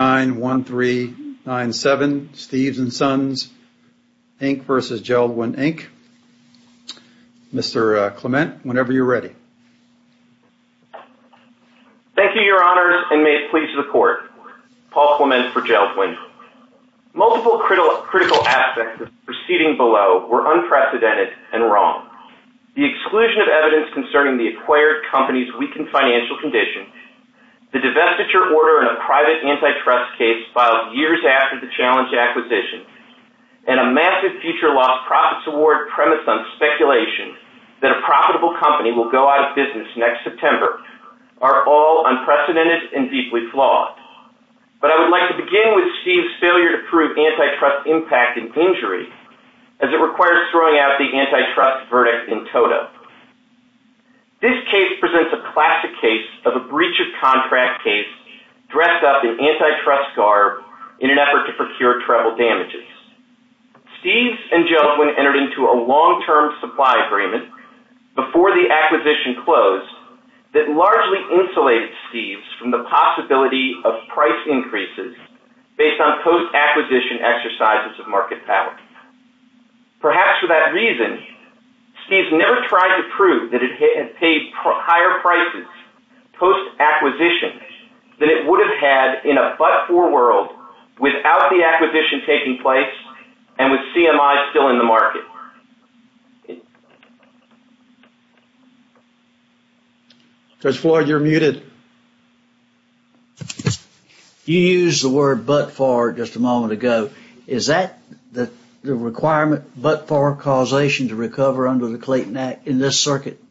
Mr. Clement, whenever you're ready. Thank you, Your Honors, and may it please the Court. Paul Clement for Jeld-Wen. Multiple critical aspects of the proceeding below were unprecedented and wrong. The exclusion of evidence concerning the acquired company's weakened financial condition, the divestiture order in a private antitrust case filed years after the challenge acquisition, and a massive future loss profits award premised on speculation that a profitable company will go out of business next September are all unprecedented and deeply flawed. But I would like to begin with Steve's failure to prove antitrust impact and injury, as it requires throwing out the antitrust verdict in total. This case presents a classic case of a breach of contract case dressed up in antitrust garb in an effort to procure treble damages. Steve's and Jeld-Wen entered into a long-term supply agreement before the acquisition closed that largely insulated Steve's from the possibility of price increases based on post-acquisition exercises of market power. Perhaps for that reason, Steve's never tried to prove that it had paid higher prices post-acquisition than it would have had in a but-for world without the acquisition taking place and with CMI still in the market. Judge Floyd, you're muted. You used the word but-for just a moment ago. Is that the requirement, but-for causation to recover under the Clayton Act in this circuit?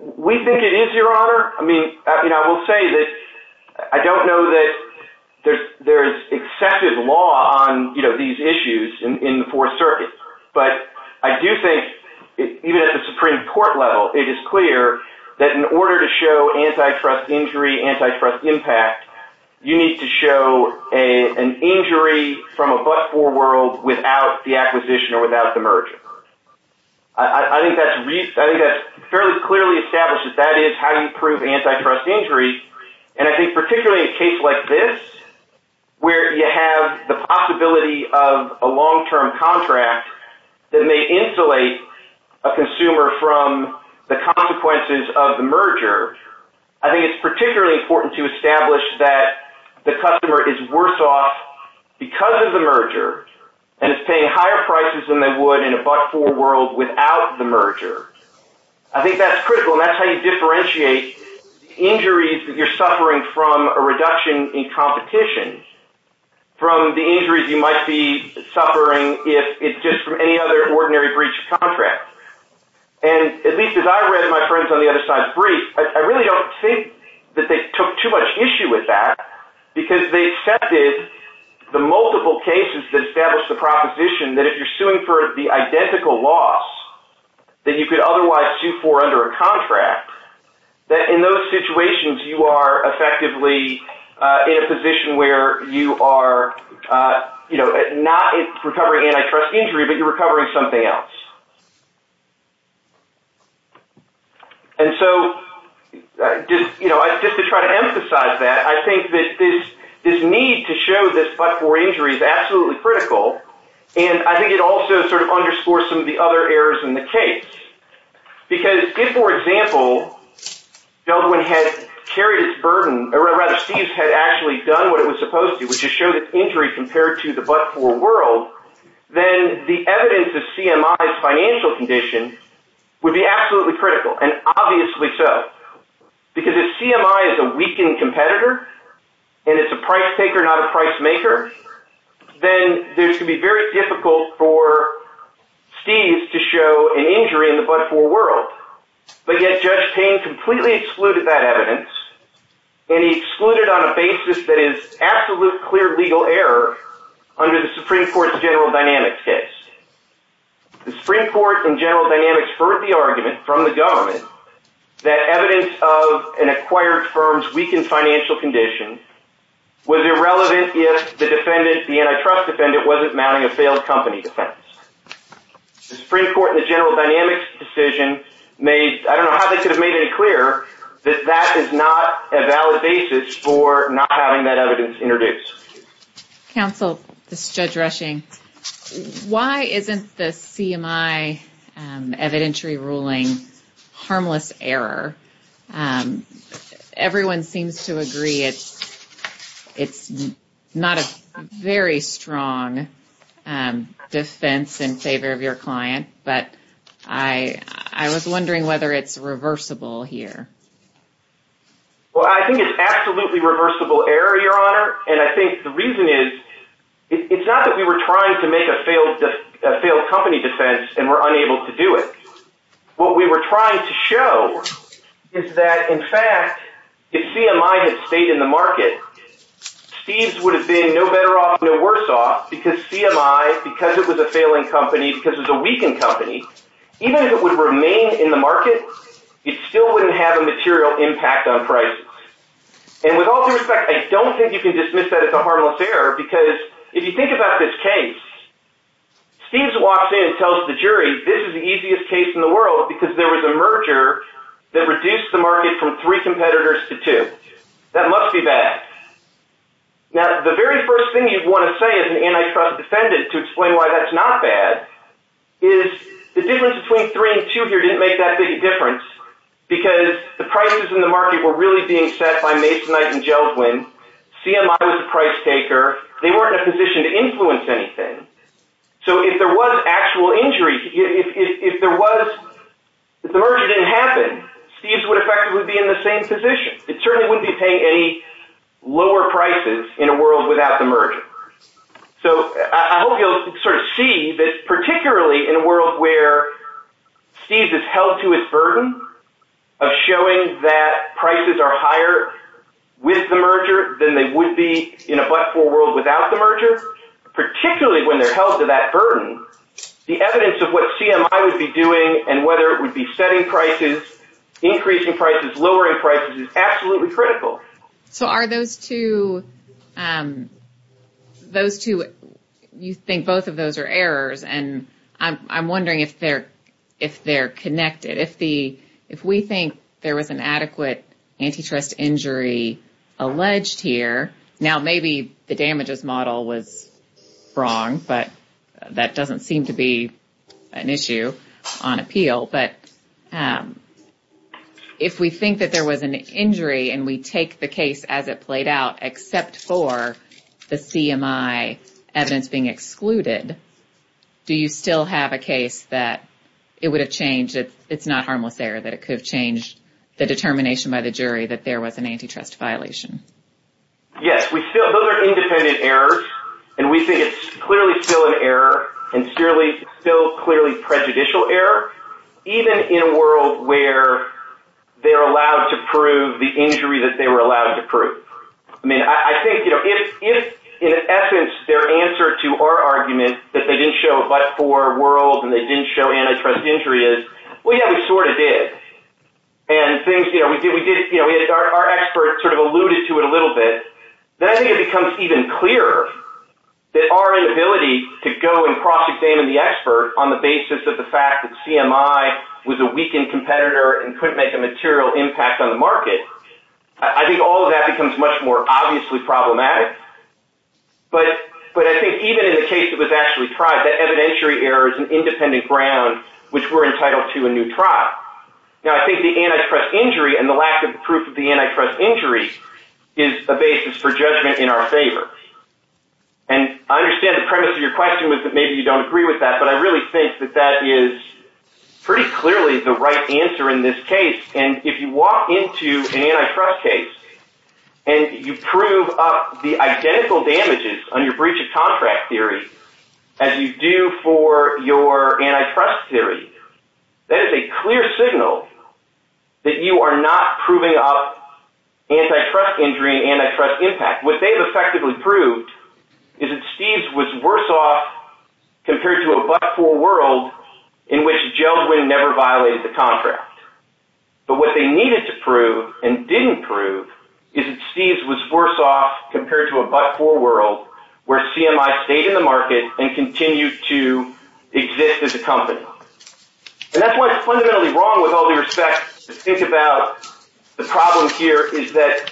We think it is, Your Honor. I mean, I will say that I don't know that there's accepted law on these issues in the Fourth Circuit, but I do think even at the Supreme Court level it is clear that in order to show antitrust injury, antitrust impact, you need to show an injury from a but-for world without the acquisition or without the merger. I think that's fairly clearly established that that is how you prove antitrust injury, and I think particularly a case like this where you have the possibility of a long-term contract that they insulate a consumer from the consequences of the merger, I think it's particularly important to establish that the customer is worse off because of the merger and is paying higher prices than they would in a but-for world without the merger. I think that's critical, and that's how you differentiate injuries that you're suffering from a reduction in And at least as I read my friends on the other side's brief, I really don't think that they took too much issue with that because they accepted the multiple cases that established the proposition that if you're suing for the identical loss that you could otherwise sue for under a contract, that in those situations you are effectively in a position where you are not recovering antitrust injury, but you're recovering something else. And so just to try to emphasize that, I think that this need to show this but-for injury is absolutely critical, and I think it also sort of underscores some of the other errors in the case. Because if, for example, Dublin had carried its burden, or rather, Steve's had actually done what it was supposed to, which is show an injury compared to the but-for world, then the evidence of CMI's financial condition would be absolutely critical, and obviously so. Because if CMI is a weakened competitor, and it's a price taker not a price maker, then there's going to be very difficult for Steve's to show an injury in the but-for world. But yet Judge Payne completely excluded that evidence, and he excluded on a basis that is absolutely clear legal error under the Supreme Court's general dynamics case. The Supreme Court in general dynamics heard the argument from the government that evidence of an acquired firm's weakened financial condition was irrelevant if the defendant, the antitrust defendant, wasn't mounting a failed company defense. The Supreme Court in the general dynamics decision, I don't know how they could have made it clear that that is not a valid basis for not having that evidence introduced. Counsel, this is Judge Rushing. Why isn't the CMI evidentiary ruling harmless error? Everyone seems to agree it's not a very strong defense in favor of your client, but I was wondering whether it's reversible here. Well, I think it's absolutely reversible error, Your Honor, and I think the reason is it's not that we were trying to make a failed company defense and were unable to do it. What we were trying to show is that, in fact, if CMI had stayed in the market, Steve's would have been no better off, no worse off, because CMI, because it was a failing company, because it was a weakened company, even if it would have remained in the market, it still wouldn't have a material impact on prices. And with all due respect, I don't think you can dismiss that as a harmless error, because if you think about this case, Steve's walks in and tells the jury, this is the easiest case in the world, because there was a merger that reduced the market from three competitors to two. That must be bad. Now, the very first thing you'd want to say as an antitrust defendant to explain why that's not bad is the difference between three and two here didn't make that big a difference, because the prices in the market were really being set by Masonite and Jelwin. CMI was a failure. If the merger didn't happen, Steve's would effectively be in the same position. It certainly wouldn't be paying any lower prices in a world without the merger. So I hope you'll sort of see that, particularly in a world where Steve's is held to its burden of showing that prices are higher with the merger than they would be in a but-for world without the merger, particularly when they're held to that burden, the evidence of what CMI would be doing and whether it would be setting prices, increasing prices, lowering prices is absolutely critical. So are those two, you think both of those are errors, and I'm wondering if they're connected. If we think there was an adequate antitrust injury alleged here, now maybe the damage model was wrong, but that doesn't seem to be an issue on appeal. But if we think that there was an injury and we take the case as it played out, except for the CMI evidence being excluded, do you still have a case that it would have changed if it's not harmless error, that it could have changed the determination by the jury that there was an antitrust violation? Yes. Those are independent errors, and we think it's clearly still an error and still clearly prejudicial error, even in a world where they're allowed to prove the injury that they were allowed to prove. I mean, I think if in essence their answer to our argument that they didn't show a but-for world and they didn't show antitrust injuries, well, yeah, we sort of did. And our expert sort of alluded to it a little bit. Then I think it becomes even clearer that our inability to go and cross-examine the expert on the basis of the fact that CMI was a weakened competitor and couldn't make a material impact on the market, I think all of that becomes much more obviously problematic. But I think even in the case that was actually tried, that evidentiary error is an independent ground which we're entitled to a new trial. Now, I think the antitrust injury and the lack of proof of the antitrust injury is a basis for judgment in our favor. And I understand the premise of your question was that maybe you don't agree with that, but I really think that that is pretty clearly the right answer in this case. And if you walk into an antitrust case and you prove the identical damages on your breach contract theory as you do for your antitrust theory, that is a clear signal that you are not proving up antitrust injury and antitrust impact. What they've effectively proved is that Steve's was worse off compared to a but-for world in which Gelsman never violated the contract. But what they needed to prove and didn't prove is that Steve's was worse off compared to a but-for world where CMI stayed in the market and continued to exist as a company. And that's what's fundamentally wrong with all due respect to think about the problem here is that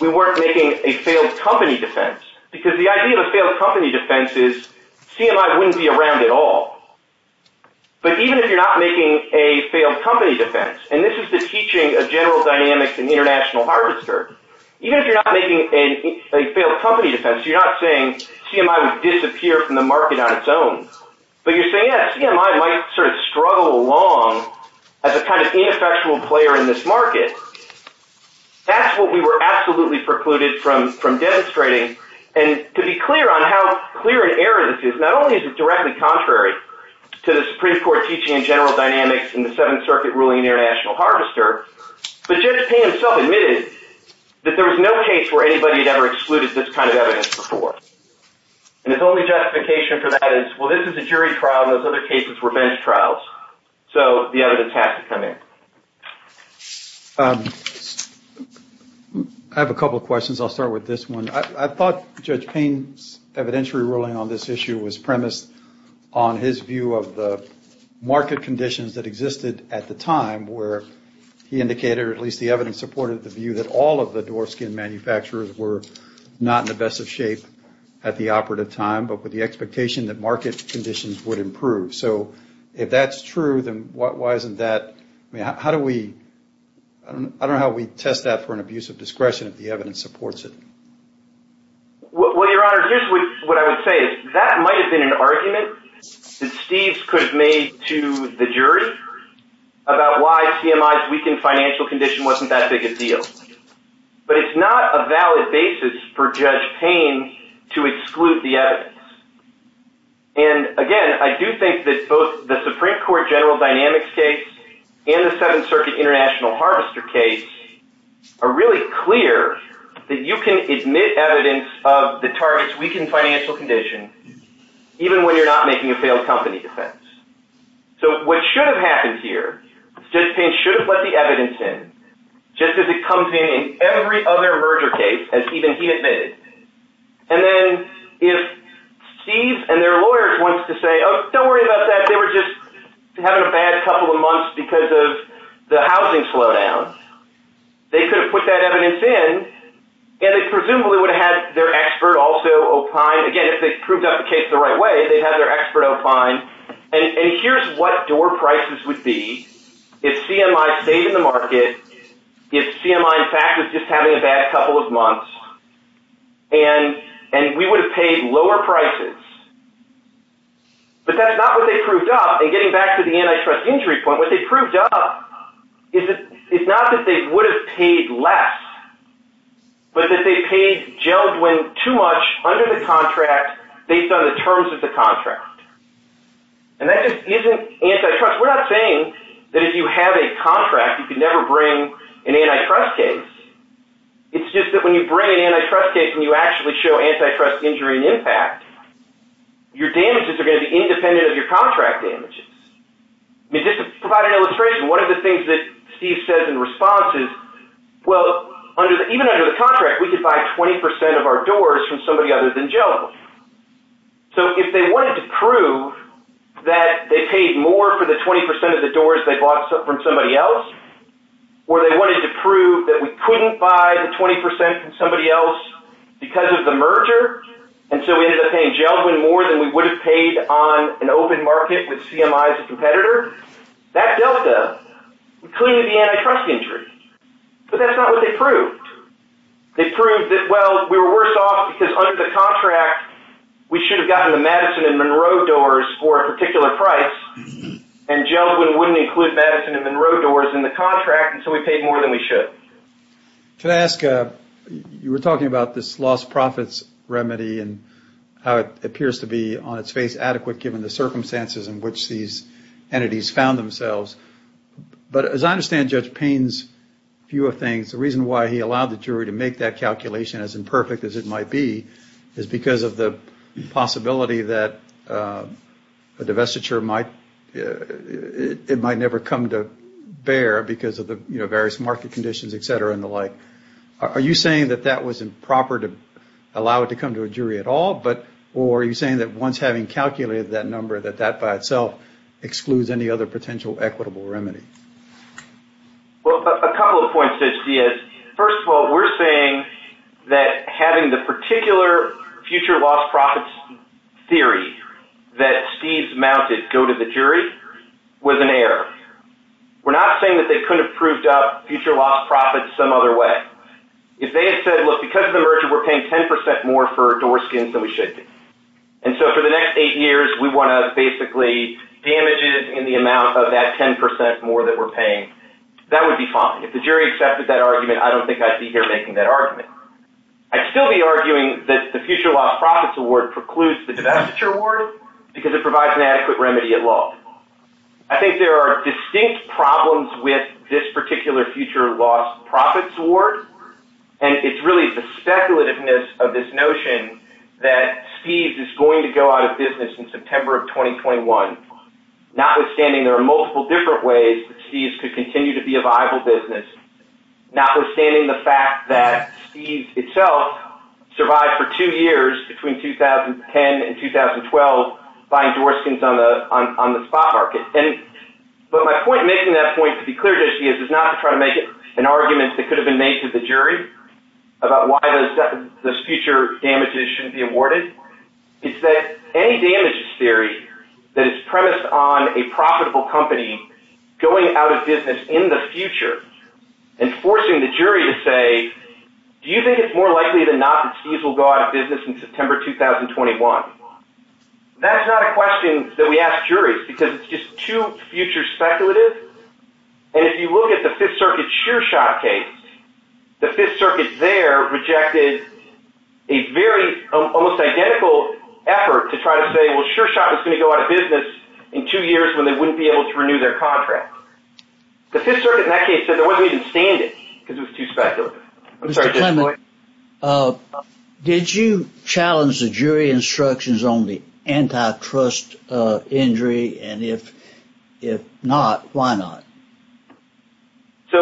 we weren't making a failed company defense. Because the idea of a failed company defense is CMI wouldn't be around at all. But even if you're not making a failed company defense, and this is the teaching of general dynamics in International Harvester, even if you're not making a failed company defense, you're not saying CMI would disappear from the market on its own. But you're saying that CMI might sort of struggle along as a kind of ineffectual player in this market. That's what we were absolutely precluded from demonstrating. And to be clear on how clear an error this is, not only is it directly contrary to the But Judge Payne himself admitted that there was no case where anybody had ever excluded this kind of evidence before. And his only justification for that is, well, this is a jury trial and those other cases were bench trials. So the evidence has to come in. I have a couple of questions. I'll start with this one. I thought Judge Payne's evidentiary ruling on this issue was premised on his view of the market conditions that existed at the time where he indicated, or at least the evidence supported, the view that all of the Dwarfskin manufacturers were not in the best of shape at the operative time, but with the expectation that market conditions would improve. So if that's true, then why isn't that? I mean, how do we – I don't know how we test that for an abuse of discretion if the evidence supports it. Well, Your Honor, this is what I would say. That might have been an argument that Steve could have made to the jury about why CMI's weakened financial condition wasn't that big a deal. But it's not a valid basis for Judge Payne to exclude the evidence. And again, I do think that both the Supreme Court general dynamics case and the Seventh Circuit international harvester case are really clear that you can admit evidence of the target's weakened financial condition even when you're not making a failed company defense. So what should have happened here, Judge Payne should have let the evidence in, just as it comes in in every other merger case, as even he admitted. And then if Steve and their lawyers want to say, don't worry about that, they were just having a bad couple of months because of the housing slowdown, they could have put that evidence in, and they presumably would have had their expert also opine. Again, if they proved that case the right way, they'd have their expert opine. And here's what door prices would be if CMI stayed in the market, if CMI, in fact, was just having a bad couple of months, and we would have paid lower prices. But that's not what they proved up, and getting back to the antitrust injury point, what they proved up is not that they would have paid less, but that they paid Geldwin too much under the contract based on the terms of the contract. And that just isn't antitrust. We're not saying that if you have a contract, you can never bring an antitrust case. It's just that when you bring an antitrust case and you actually show antitrust injury and impact, your damages are going to be independent of your contract damages. Just to provide an illustration, one of the things that Steve says in response is, well, even under the contract, we could buy 20% of our doors from somebody other than Geldwin. So if they wanted to prove that they paid more for the 20% of the doors they bought from somebody else, or they wanted to prove that we couldn't buy the 20% from somebody else because of the merger, and so we ended up paying Geldwin more than we would have paid on an open market with CMI as a competitor, that dealt with it. We cleaned the antitrust injury. But that's not what they proved. They proved that, well, we were worse off because under the contract, we should have gotten the Madison and Monroe doors for a particular price, and Geldwin wouldn't include Madison and Monroe doors in the contract until we paid more than we should. Can I ask, you were talking about this lost profits remedy and how it appears to be on its face adequate given the circumstances in which these entities found themselves. But as I understand Judge Payne's view of things, the reason why he allowed the jury to make that calculation as imperfect as it might be is because of the possibility that a divestiture might never come to bear because of the various market conditions, et cetera, and the like. Are you saying that that was improper to allow it to come to a jury at all, or are you saying that once having calculated that number, that that by itself excludes any other potential equitable remedy? Well, a couple of points, Judge Diaz. First of all, we're saying that having the particular future lost profits theory that Steve's mounted go to the jury was an error. We're not saying that they couldn't have proved up future lost profits some other way. If they said, look, because of the merger, we're paying 10% more for door skins than we should be. And so for the next eight years, we want to basically damage it in the amount of that 10% more that we're paying. That would be fine. If the jury accepted that argument, I don't think I'd be here making that argument. I'd still be arguing that the future lost profits award precludes the divestiture award because it provides an adequate remedy at law. I think there are distinct problems with this particular future lost profits award, and it's really the speculativeness of this notion that Steve's is going to go out of business in September of 2021. Notwithstanding, there are multiple different ways that Steve's could continue to be a viable business. Notwithstanding the fact that Steve's itself survived for two years between 2010 and 2012 buying door skins on the spot market. But my point making that point to be clear, Judge Diaz, is not to try to make an argument that could have been made to the jury about why those future damages shouldn't be awarded. It's that any damages theory that is premised on a profitable company going out of business in the future and forcing the jury to say, do you think it's more likely than not that Steve's will go out of business in September 2021? That's not a question that we ask juries because it's just too future speculative. And if you look at the Fifth Circuit's SureShot case, the Fifth Circuit there rejected a very almost identical effort to try to say, well, SureShot is going to go out of business in two years when they wouldn't be able to renew their contract. The Fifth Circuit in that case said they wouldn't even stand it because it was too speculative. Did you challenge the jury instructions on the antitrust injury? And if not, why not? So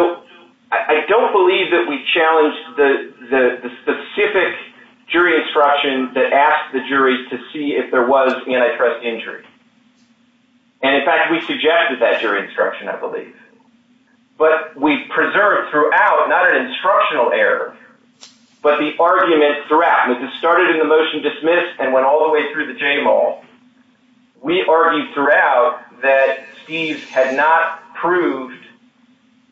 I don't believe that we challenged the specific jury instruction that asked the jury to see if there was antitrust injury. And in fact, we suggested that jury instruction, I believe. But we preserved throughout, not an instructional error, but the argument throughout. It started in the motion dismissed and went all the way through the JMOL. We argued throughout that Steve had not proved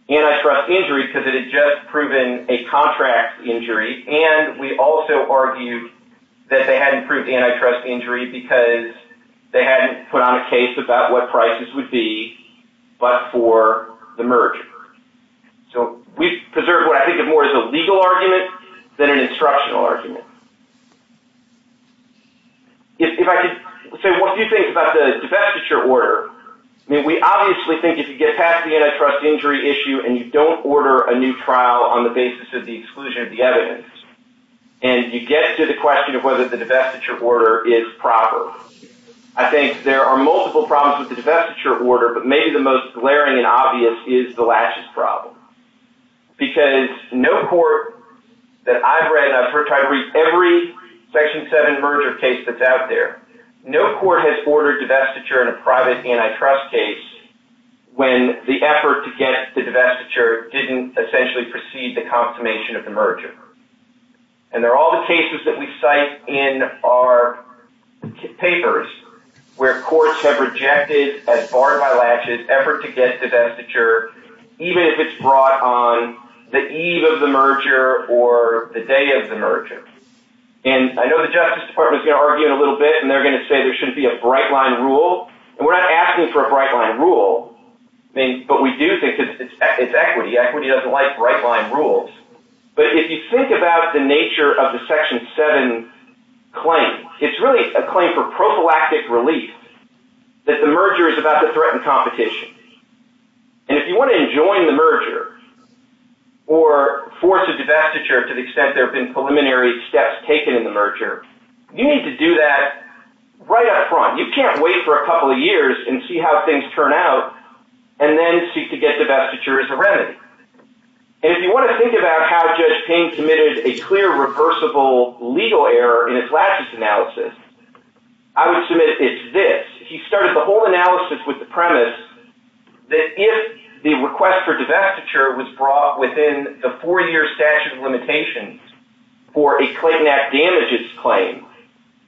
antitrust injury because it had just proven a contract injury. And we also argued that they hadn't proved antitrust injury because they hadn't put on a case about what prices would be, but for the merger. So we preserved what I think of more as a legal argument than an instructional argument. So what do you think about the divestiture order? I mean, we obviously think if you get past the antitrust injury issue and you don't order a new trial on the basis of the exclusion of the evidence, and you get to the question of whether the divestiture order is proper, I think there are multiple problems with the divestiture order, but maybe the most glaring and obvious is the lashes problem. Because no court that I've read, I've tried to read every Section 7 merger case that's out there, no court has ordered divestiture in a private antitrust case when the effort to get the divestiture didn't essentially precede the confirmation of the merger. And there are all the cases that we cite in our papers where courts have rejected as barred by lashes effort to get divestiture, even if it's brought on the eve of the merger or the day of the merger. And I know the Justice Department is going to argue in a little bit, and they're going to say there shouldn't be a bright-line rule. And we're not asking for a bright-line rule, but we do think it's equity. Equity doesn't like bright-line rules. But if you think about the nature of the Section 7 claim, it's really a claim for prophylactic relief that the merger is about the threat and competition. And if you want to enjoin the merger or force a divestiture to the extent there have been preliminary steps taken in the merger, you need to do that right up front. You can't wait for a couple of years and see how things turn out and then seek to get divestiture as a remedy. And if you want to think about how Judge King committed a clear reversible legal error in his lashes analysis, I would submit it's this. He started the whole analysis with the premise that if the request for divestiture was brought within the four-year statute of limitations for a Clayton Act damages claim,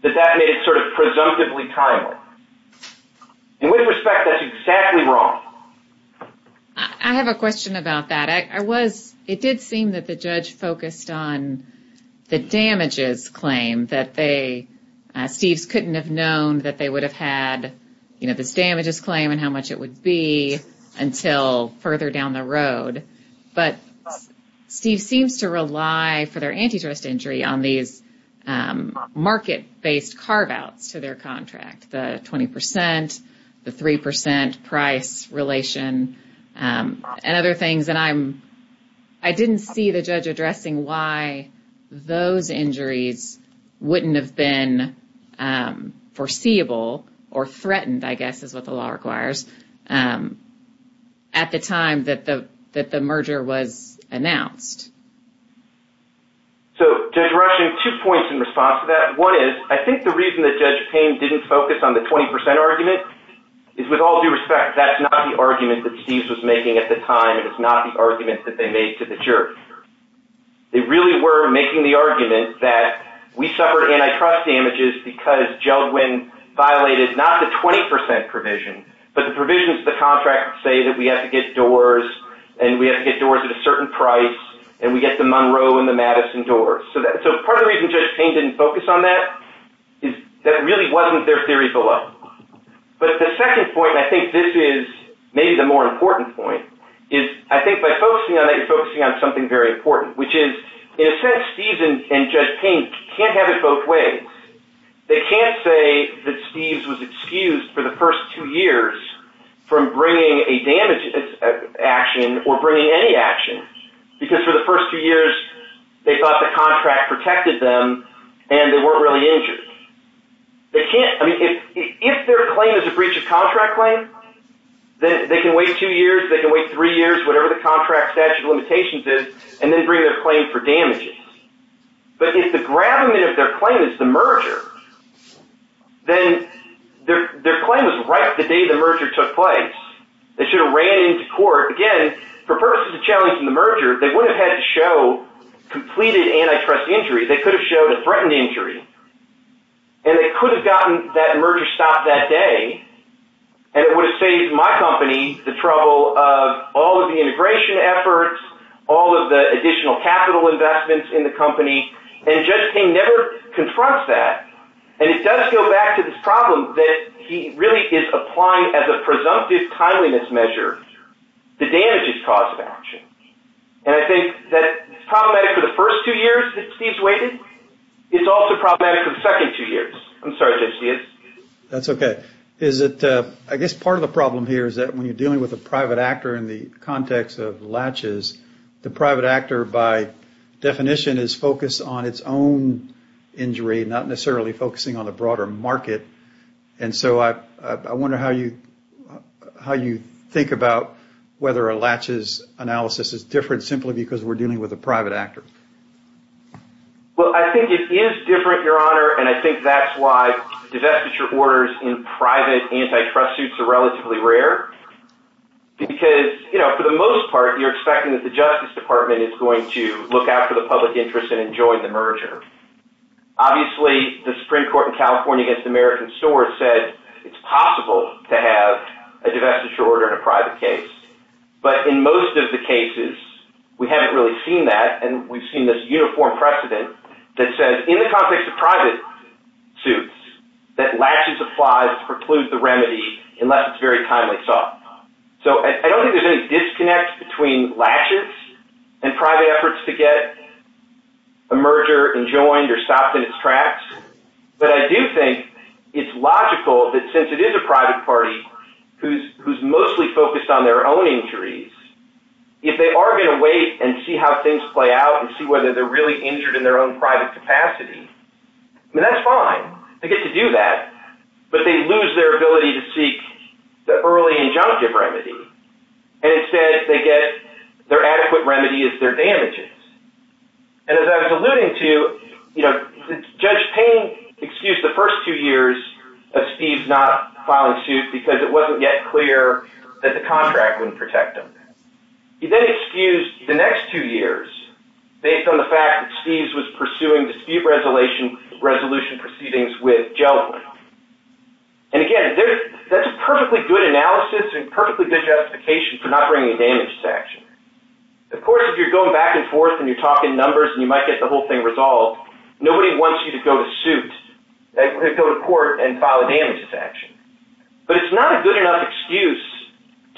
that that made it sort of presumptively timely. In which respect, that's exactly wrong. I have a question about that. It did seem that the judge focused on the damages claim. Steve couldn't have known that they would have had this damages claim and how much it would be until further down the road. But Steve seems to rely, for their antitrust injury, on these market-based carve-outs to their contract. The 20 percent, the 3 percent price relation, and other things. And I didn't see the judge addressing why those injuries wouldn't have been foreseeable or threatened, I guess is what the law requires, at the time that the merger was announced. So, Judge Ross, you have two points in response to that. One is, I think the reason that Judge Payne didn't focus on the 20 percent argument is, with all due respect, that's not the argument that Steve was making at the time. It was not the argument that they made to the jury. They really were making the argument that we suffered antitrust damages because Jelgwin violated not the 20 percent provision, but the provisions of the contract say that we have to get doors, and we have to get doors at a certain price, and we get the Monroe and the Madison doors. So part of the reason Judge Payne didn't focus on that is that it really wasn't their theory below. But the second point, and I think this is maybe the more important point, is I think by focusing on that, you're focusing on something very important, which is, in a sense, Steve and Judge Payne can't have it both ways. They can't say that Steve was excused for the first two years from bringing a damage action or bringing any action, because for the first two years, they thought the contract protected them, and they weren't really injured. They can't, I mean, if their claim is a breach of contract claim, then they can wait two years, they can wait three years, whatever the contract statute of limitations is, and then bring their claim for damages. But if the gravamen of their claim is the merger, then their claim was right the day the merger took place. They should have ran into court. Again, for purposes of challenging the merger, they would have had to show completed antitrust injury. They could have showed a threatened injury, and they could have gotten that merger stopped that day, and it would have saved my company the trouble of all of the integration efforts, all of the additional capital investments in the company, and Judge Payne never confronts that. And it does go back to this problem that he really is applying, as a presumptive timeliness measure, the damages cause of action. And I think that it's problematic for the first two years that Steve's waiting. It's also problematic for the second two years. I'm sorry, Judge Hayes. That's okay. I guess part of the problem here is that when you're dealing with a private actor in the context of latches, the private actor, by definition, is focused on its own injury, not necessarily focusing on a broader market. And so I wonder how you think about whether a latches analysis is different simply because we're dealing with a private actor. Well, I think it is different, Your Honor, and I think that's why disastrous orders in private antitrust suits are relatively rare. Because, you know, for the most part, you're expecting that the Justice Department is going to look out for the public interest and enjoy the merger. Obviously, the Supreme Court in California against the American store said it's possible to have a disastrous order in a private case. But in most of the cases, we haven't really seen that, and we've seen this uniform precedent that says, in the context of private suits, that latches apply to preclude the remedy unless it's very timely sought. So I don't think there's any disconnect between latches and private efforts to get a merger enjoined or stopped in its tracks. But I do think it's logical that since it is a private party who's mostly focused on their own injuries, if they are going to wait and see how things play out and see whether they're really injured in their own private capacity, then that's fine. They get to do that, but they lose their ability to seek the early injunctive remedy. And instead, they get their adequate remedy as their damages. And as I was alluding to, Judge Payne excused the first two years of Steeves not filing suit because it wasn't yet clear that the contract wouldn't protect him. He then excused the next two years based on the fact that Steeves was pursuing the speed resolution proceedings with Jellawine. And again, that's perfectly good analysis and perfectly good justification for not bringing damage to action. Of course, if you're going back and forth and you're talking numbers and you might get the whole thing resolved, nobody wants you to go to court and file a damage to action. But it's not a good enough excuse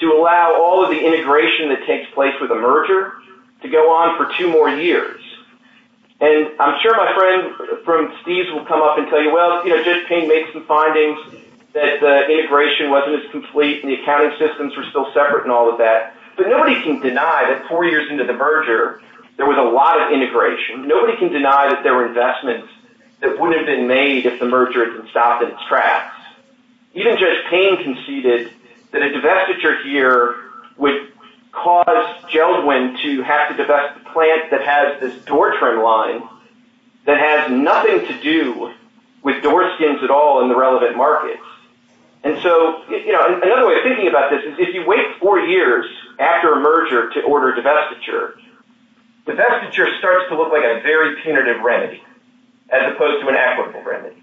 to allow all of the integration that takes place with a merger to go on for two more years. And I'm sure my friend from Steeves will come up and tell you, well, Judge Payne made some findings that the integration wasn't as complete and the accounting systems were still separate and all of that. But nobody can deny that four years into the merger, there was a lot of integration. Nobody can deny that there were investments that wouldn't have been made if the merger had been stopped in its tracks. Even Judge Payne conceded that a divestiture here would cause Jellawine to have to divest a plant that has this door trim line that has nothing to do with door skins at all in the relevant markets. And so another way of thinking about this is if you wait four years after a merger to order a divestiture, the divestiture starts to look like a very punitive remedy as opposed to an equitable remedy.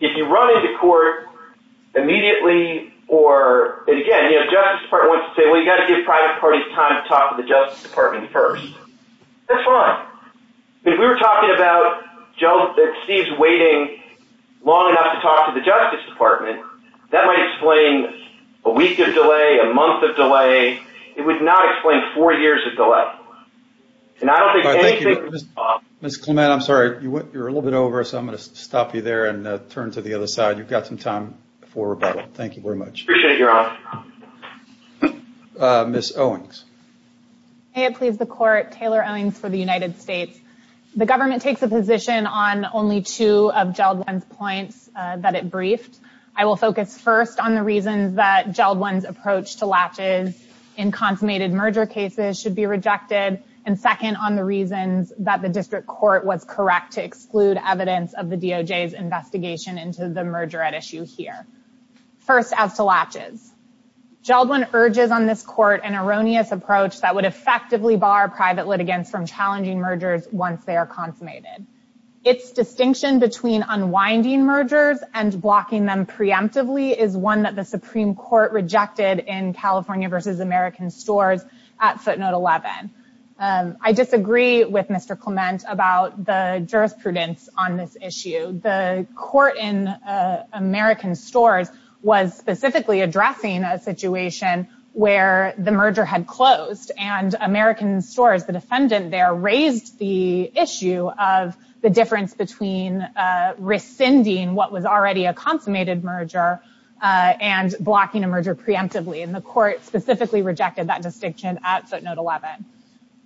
If you run into court immediately or, again, the Justice Department wants to say, well, you've got to give private parties time to talk to the Justice Department first, that's fine. If we were talking about Steve's waiting long enough to talk to the Justice Department, that might explain a week of delay, a month of delay. It would not explain four years of delay. And I don't think anything would be possible. Mr. Clement, I'm sorry. You're a little bit over, so I'm going to stop you there and turn to the other side. You've got some time for rebuttal. Thank you very much. Appreciate it, Your Honor. Ms. Owings. May it please the Court, Taylor Owings for the United States. The government takes a position on only two of Jeldwin's points that it briefed. I will focus first on the reasons that Jeldwin's approach to latches in consummated merger cases should be rejected and, second, on the reasons that the district court was correct to exclude evidence of the DOJ's investigation into the merger at issue here. First, as to latches. Jeldwin urges on this court an erroneous approach that would effectively bar private litigants from challenging mergers once they are consummated. Its distinction between unwinding mergers and blocking them preemptively is one that the Supreme Court rejected in California v. American stores at footnote 11. I disagree with Mr. Clement about the jurisprudence on this issue. The court in American stores was specifically addressing a situation where the merger had closed and American stores, the defendant there, raised the issue of the difference between rescinding what was already a consummated merger and blocking a merger preemptively, and the court specifically rejected that distinction at footnote 11.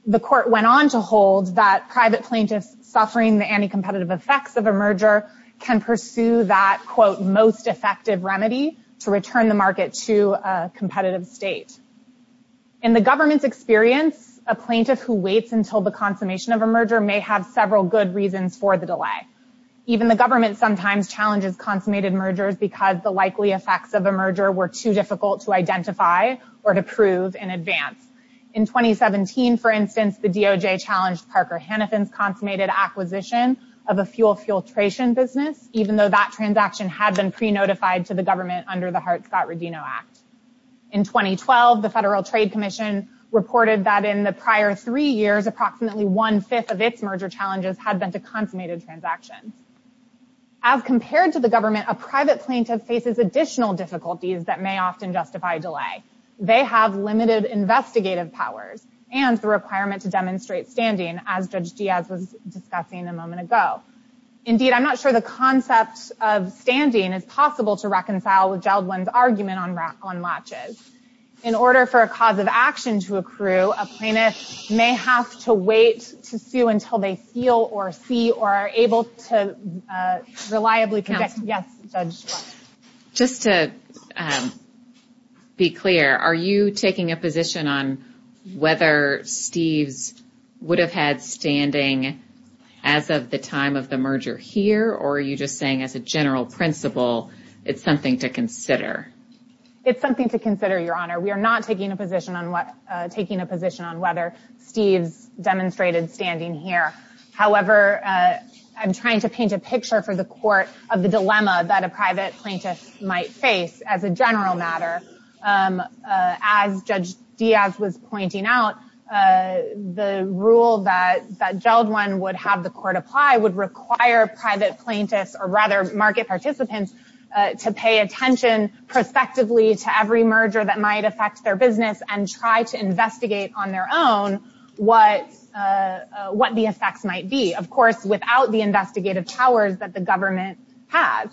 The court went on to hold that private plaintiffs suffering the anti-competitive effects of a merger can pursue that, quote, most effective remedy to return the market to a competitive state. In the government's experience, a plaintiff who waits until the consummation of a merger may have several good reasons for the delay. Even the government sometimes challenges consummated mergers because the likely effects of a merger were too difficult to identify or to prove in advance. In 2017, for instance, the DOJ challenged Parker Hennepin's consummated acquisition of a fuel filtration business, even though that transaction had been pre-notified to the government under the Hart-Scott-Rodino Act. In 2012, the Federal Trade Commission reported that in the prior three years, approximately one-fifth of its merger challenges had been to consummated transactions. As compared to the government, a private plaintiff faces additional difficulties that may often justify delay. They have limited investigative powers and the requirement to demonstrate standing, as Judge Diaz was discussing a moment ago. Indeed, I'm not sure the concept of standing is possible to reconcile with Geldwin's argument on latches. In order for a cause of action to accrue, a plaintiff may have to wait to sue until they feel or see or are able to reliably conjecture. Yes, Judge? Just to be clear, are you taking a position on whether Steve would have had standing as of the time of the merger here, or are you just saying as a general principle it's something to consider? It's something to consider, Your Honor. We are not taking a position on whether Steve demonstrated standing here. However, I'm trying to paint a picture for the court of the dilemma that a private plaintiff might face as a general matter. As Judge Diaz was pointing out, the rule that Geldwin would have the court apply would require private plaintiffs or rather market participants to pay attention prospectively to every merger that might affect their business and try to investigate on their own what the effects might be, of course, without the investigative powers that the government has.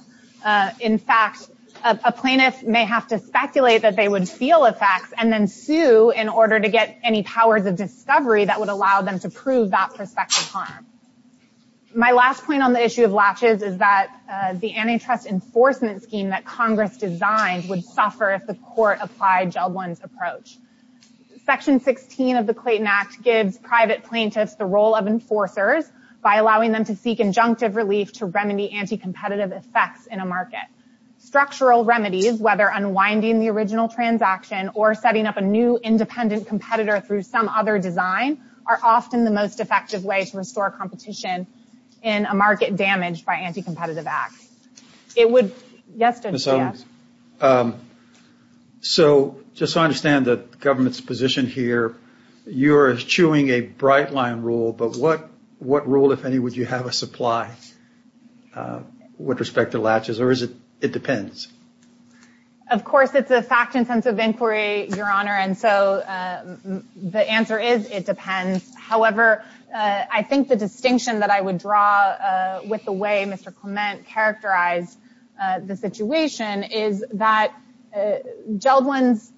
In fact, a plaintiff may have to speculate that they would feel effects and then sue in order to get any powers of discovery that would allow them to prove that prospective harm. My last point on the issue of latches is that the antitrust enforcement scheme that Congress designed would suffer if the court applied Geldwin's approach. Section 16 of the Clayton Act gives private plaintiffs the role of enforcers by allowing them to seek injunctive relief to remedy anti-competitive effects in a market. Structural remedies, whether unwinding the original transaction or setting up a new independent competitor through some other design, are often the most effective way to restore competition in a market damaged by anti-competitive acts. Yes or no? So just so I understand the government's position here, you are eschewing a bright-line rule, but what rule, if any, would you have us apply with respect to latches, or is it dependence? Of course, it's a fact-intensive inquiry, Your Honor, and so the answer is it depends. However, I think the distinction that I would draw with the way Mr. Clement characterized the situation is that Geldwin's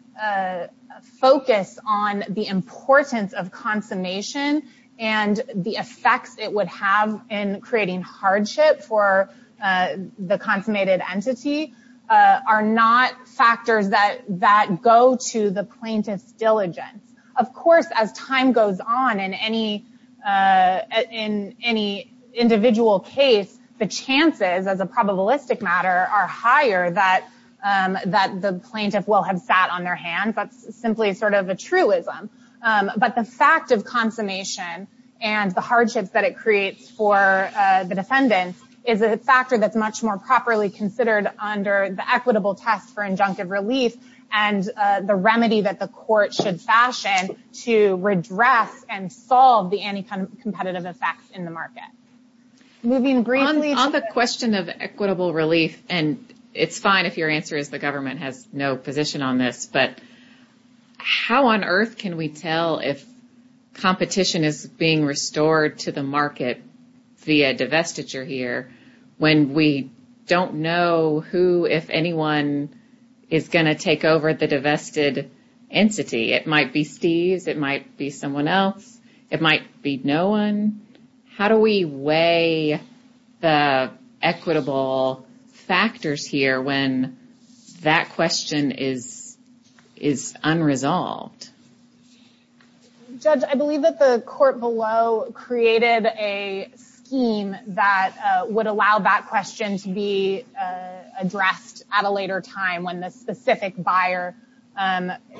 focus on the importance of consummation and the effects it would have in creating hardship for the consummated entity are not factors that go to the plaintiff's diligence. Of course, as time goes on in any individual case, the chances, as a probabilistic matter, are higher that the plaintiff will have sat on their hands. That's simply sort of a truism. But the fact of consummation and the hardships that it creates for the defendant is a factor that's much more properly considered under the equitable test for injunctive relief and the remedy that the court should fashion to redress and solve the anti-competitive effects in the market. On the question of equitable relief, and it's fine if your answer is the government has no position on this, but how on earth can we tell if competition is being restored to the market via divestiture here when we don't know who, if anyone, is going to take over the divested entity? It might be Steve, it might be someone else, it might be no one. How do we weigh the equitable factors here when that question is unresolved? Judge, I believe that the court below created a scheme that would allow that question to be addressed at a later time when the specific buyer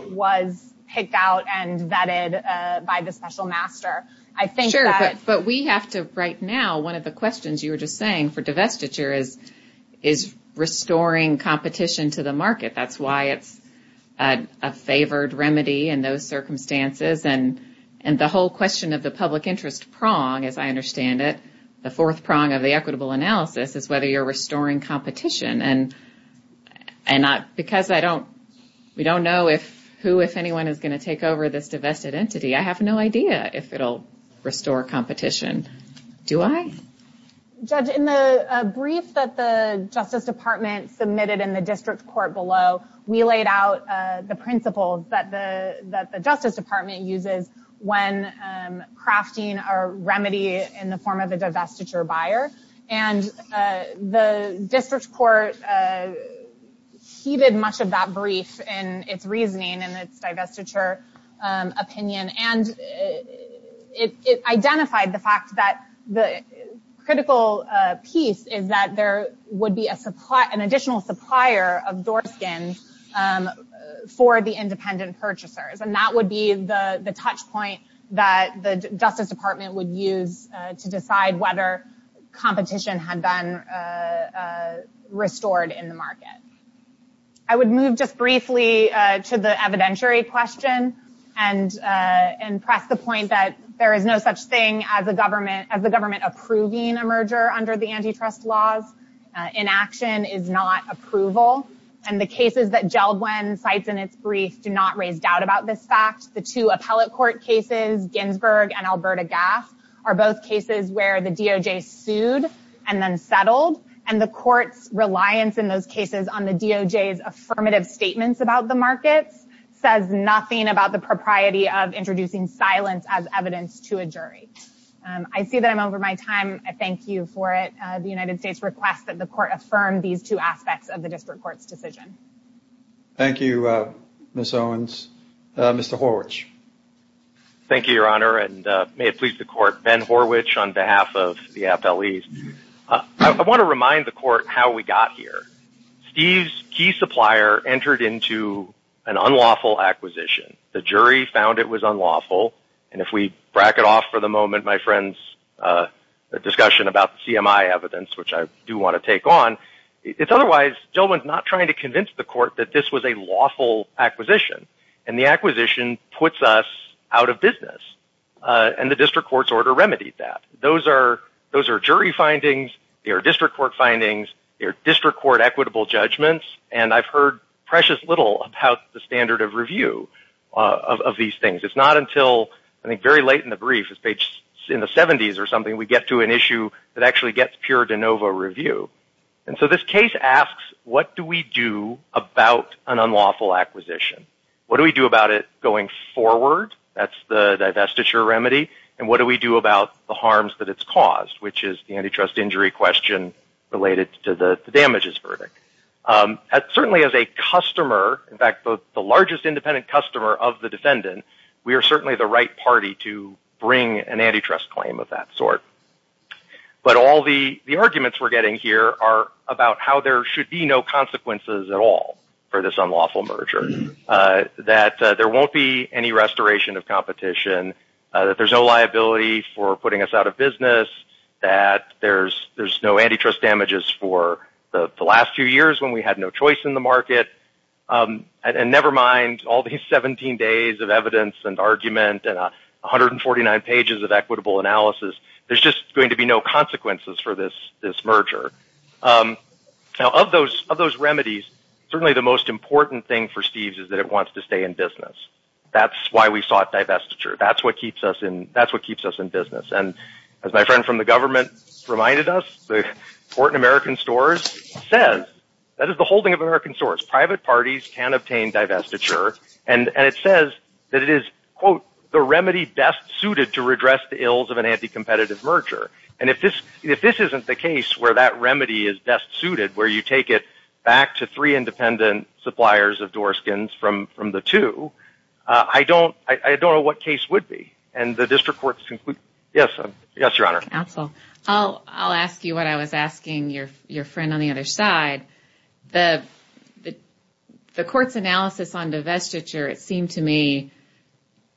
was picked out and vetted by the special master. Sure, but we have to, right now, one of the questions you were just saying for divestiture is restoring competition to the market. That's why it's a favored remedy in those circumstances. And the whole question of the public interest prong, as I understand it, the fourth prong of the equitable analysis is whether you're restoring competition. And because we don't know who, if anyone, is going to take over this divested entity, I have no idea if it'll restore competition. Do I? Judge, in the brief that the Justice Department submitted in the district court below, we laid out the principles that the Justice Department uses when crafting a remedy in the form of a divestiture buyer. And the district court heeded much of that brief in its reasoning and its divestiture opinion. And it identified the fact that the critical piece is that there would be an additional supplier of door skins for the independent purchasers. And that would be the touch point that the Justice Department would use to decide whether competition had been restored in the market. I would move just briefly to the evidentiary question and press the point that there is no such thing as a government approving a merger under the antitrust laws. Inaction is not approval. And the cases that Gelblen cites in its brief do not raise doubt about this fact. The two appellate court cases, Ginsburg and Alberta Gas, are both cases where the DOJ sued and then settled. And the court's reliance in those cases on the DOJ's affirmative statements about the market says nothing about the propriety of introducing silence as evidence to a jury. I see that I'm over my time. I thank you for it. The United States requests that the court affirm these two aspects of the district court's decision. Thank you, Ms. Owens. Mr. Horwich. Thank you, Your Honor, and may it please the court, Ben Horwich on behalf of the appellees. I want to remind the court how we got here. Steve's key supplier entered into an unlawful acquisition. The jury found it was unlawful. And if we bracket off for the moment my friend's discussion about CMI evidence, which I do want to take on, it's otherwise Gelblen's not trying to convince the court that this was a lawful acquisition. And the acquisition puts us out of business. And the district court's order remedied that. Those are jury findings. They are district court findings. They are district court equitable judgments. And I've heard precious little about the standard of review of these things. It's not until, I think, very late in the brief, in the 70s or something, we get to an issue that actually gets pure de novo review. And so this case asks what do we do about an unlawful acquisition? What do we do about it going forward? That's the divestiture remedy. And what do we do about the harms that it's caused, which is the antitrust injury question related to the damages verdict. Certainly as a customer, in fact, the largest independent customer of the defendant, we are certainly the right party to bring an antitrust claim of that sort. But all the arguments we're getting here are about how there should be no consequences at all for this unlawful merger. That there won't be any restoration of competition. That there's no liability for putting us out of business. That there's no antitrust damages for the last few years when we had no choice in the market. And never mind all these 17 days of evidence and argument and 149 pages of equitable analysis. There's just going to be no consequences for this merger. Now of those remedies, certainly the most important thing for Steve's is that it wants to stay in business. That's why we sought divestiture. That's what keeps us in business. And as my friend from the government reminded us, the court in American stores says, that is the holding of American stores, private parties can obtain divestiture. And it says that it is, quote, the remedy best suited to redress the ills of an anti-competitive merger. And if this isn't the case where that remedy is best suited, where you take it back to three independent suppliers of door skins from the two, I don't know what case would be. And the district court's conclusion. Yes, Your Honor. Absolutely. I'll ask you what I was asking your friend on the other side. The court's analysis on divestiture, it seemed to me,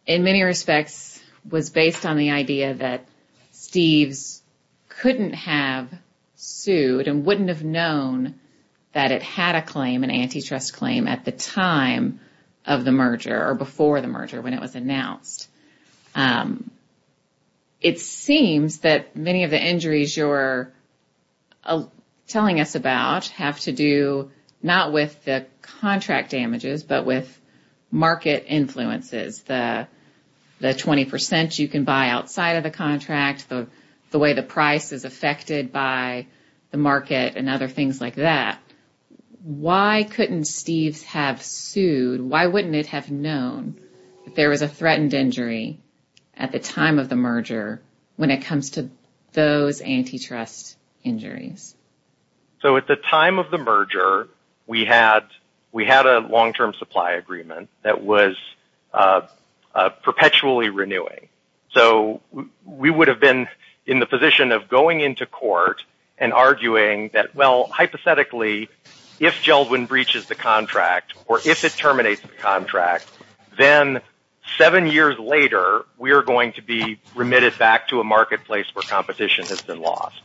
in many respects, was based on the idea that Steve couldn't have sued and wouldn't have known that it had a claim, an antitrust claim, at the time of the merger or before the merger when it was announced. It seems that many of the injuries you're telling us about have to do not with the contract damages, but with market influences, the 20% you can buy outside of the contract, the way the price is affected by the market and other things like that. Why couldn't Steve have sued? Why wouldn't he have known there was a threatened injury at the time of the merger when it comes to those antitrust injuries? So at the time of the merger, we had a long-term supply agreement that was perpetually renewing. So we would have been in the position of going into court and arguing that, well, hypothetically, if Geldwin breaches the contract or if it terminates the contract, then seven years later, we are going to be remitted back to a marketplace where competition has been lost.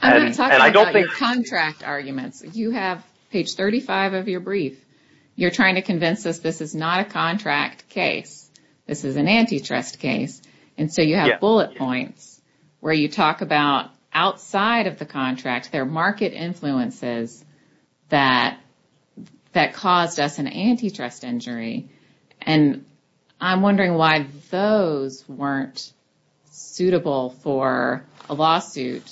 I'm not talking about your contract arguments. You have page 35 of your brief. You're trying to convince us this is not a contract case. This is an antitrust case. And so you have bullet points where you talk about outside of the contract, there are market influences that caused us an antitrust injury. And I'm wondering why those weren't suitable for a lawsuit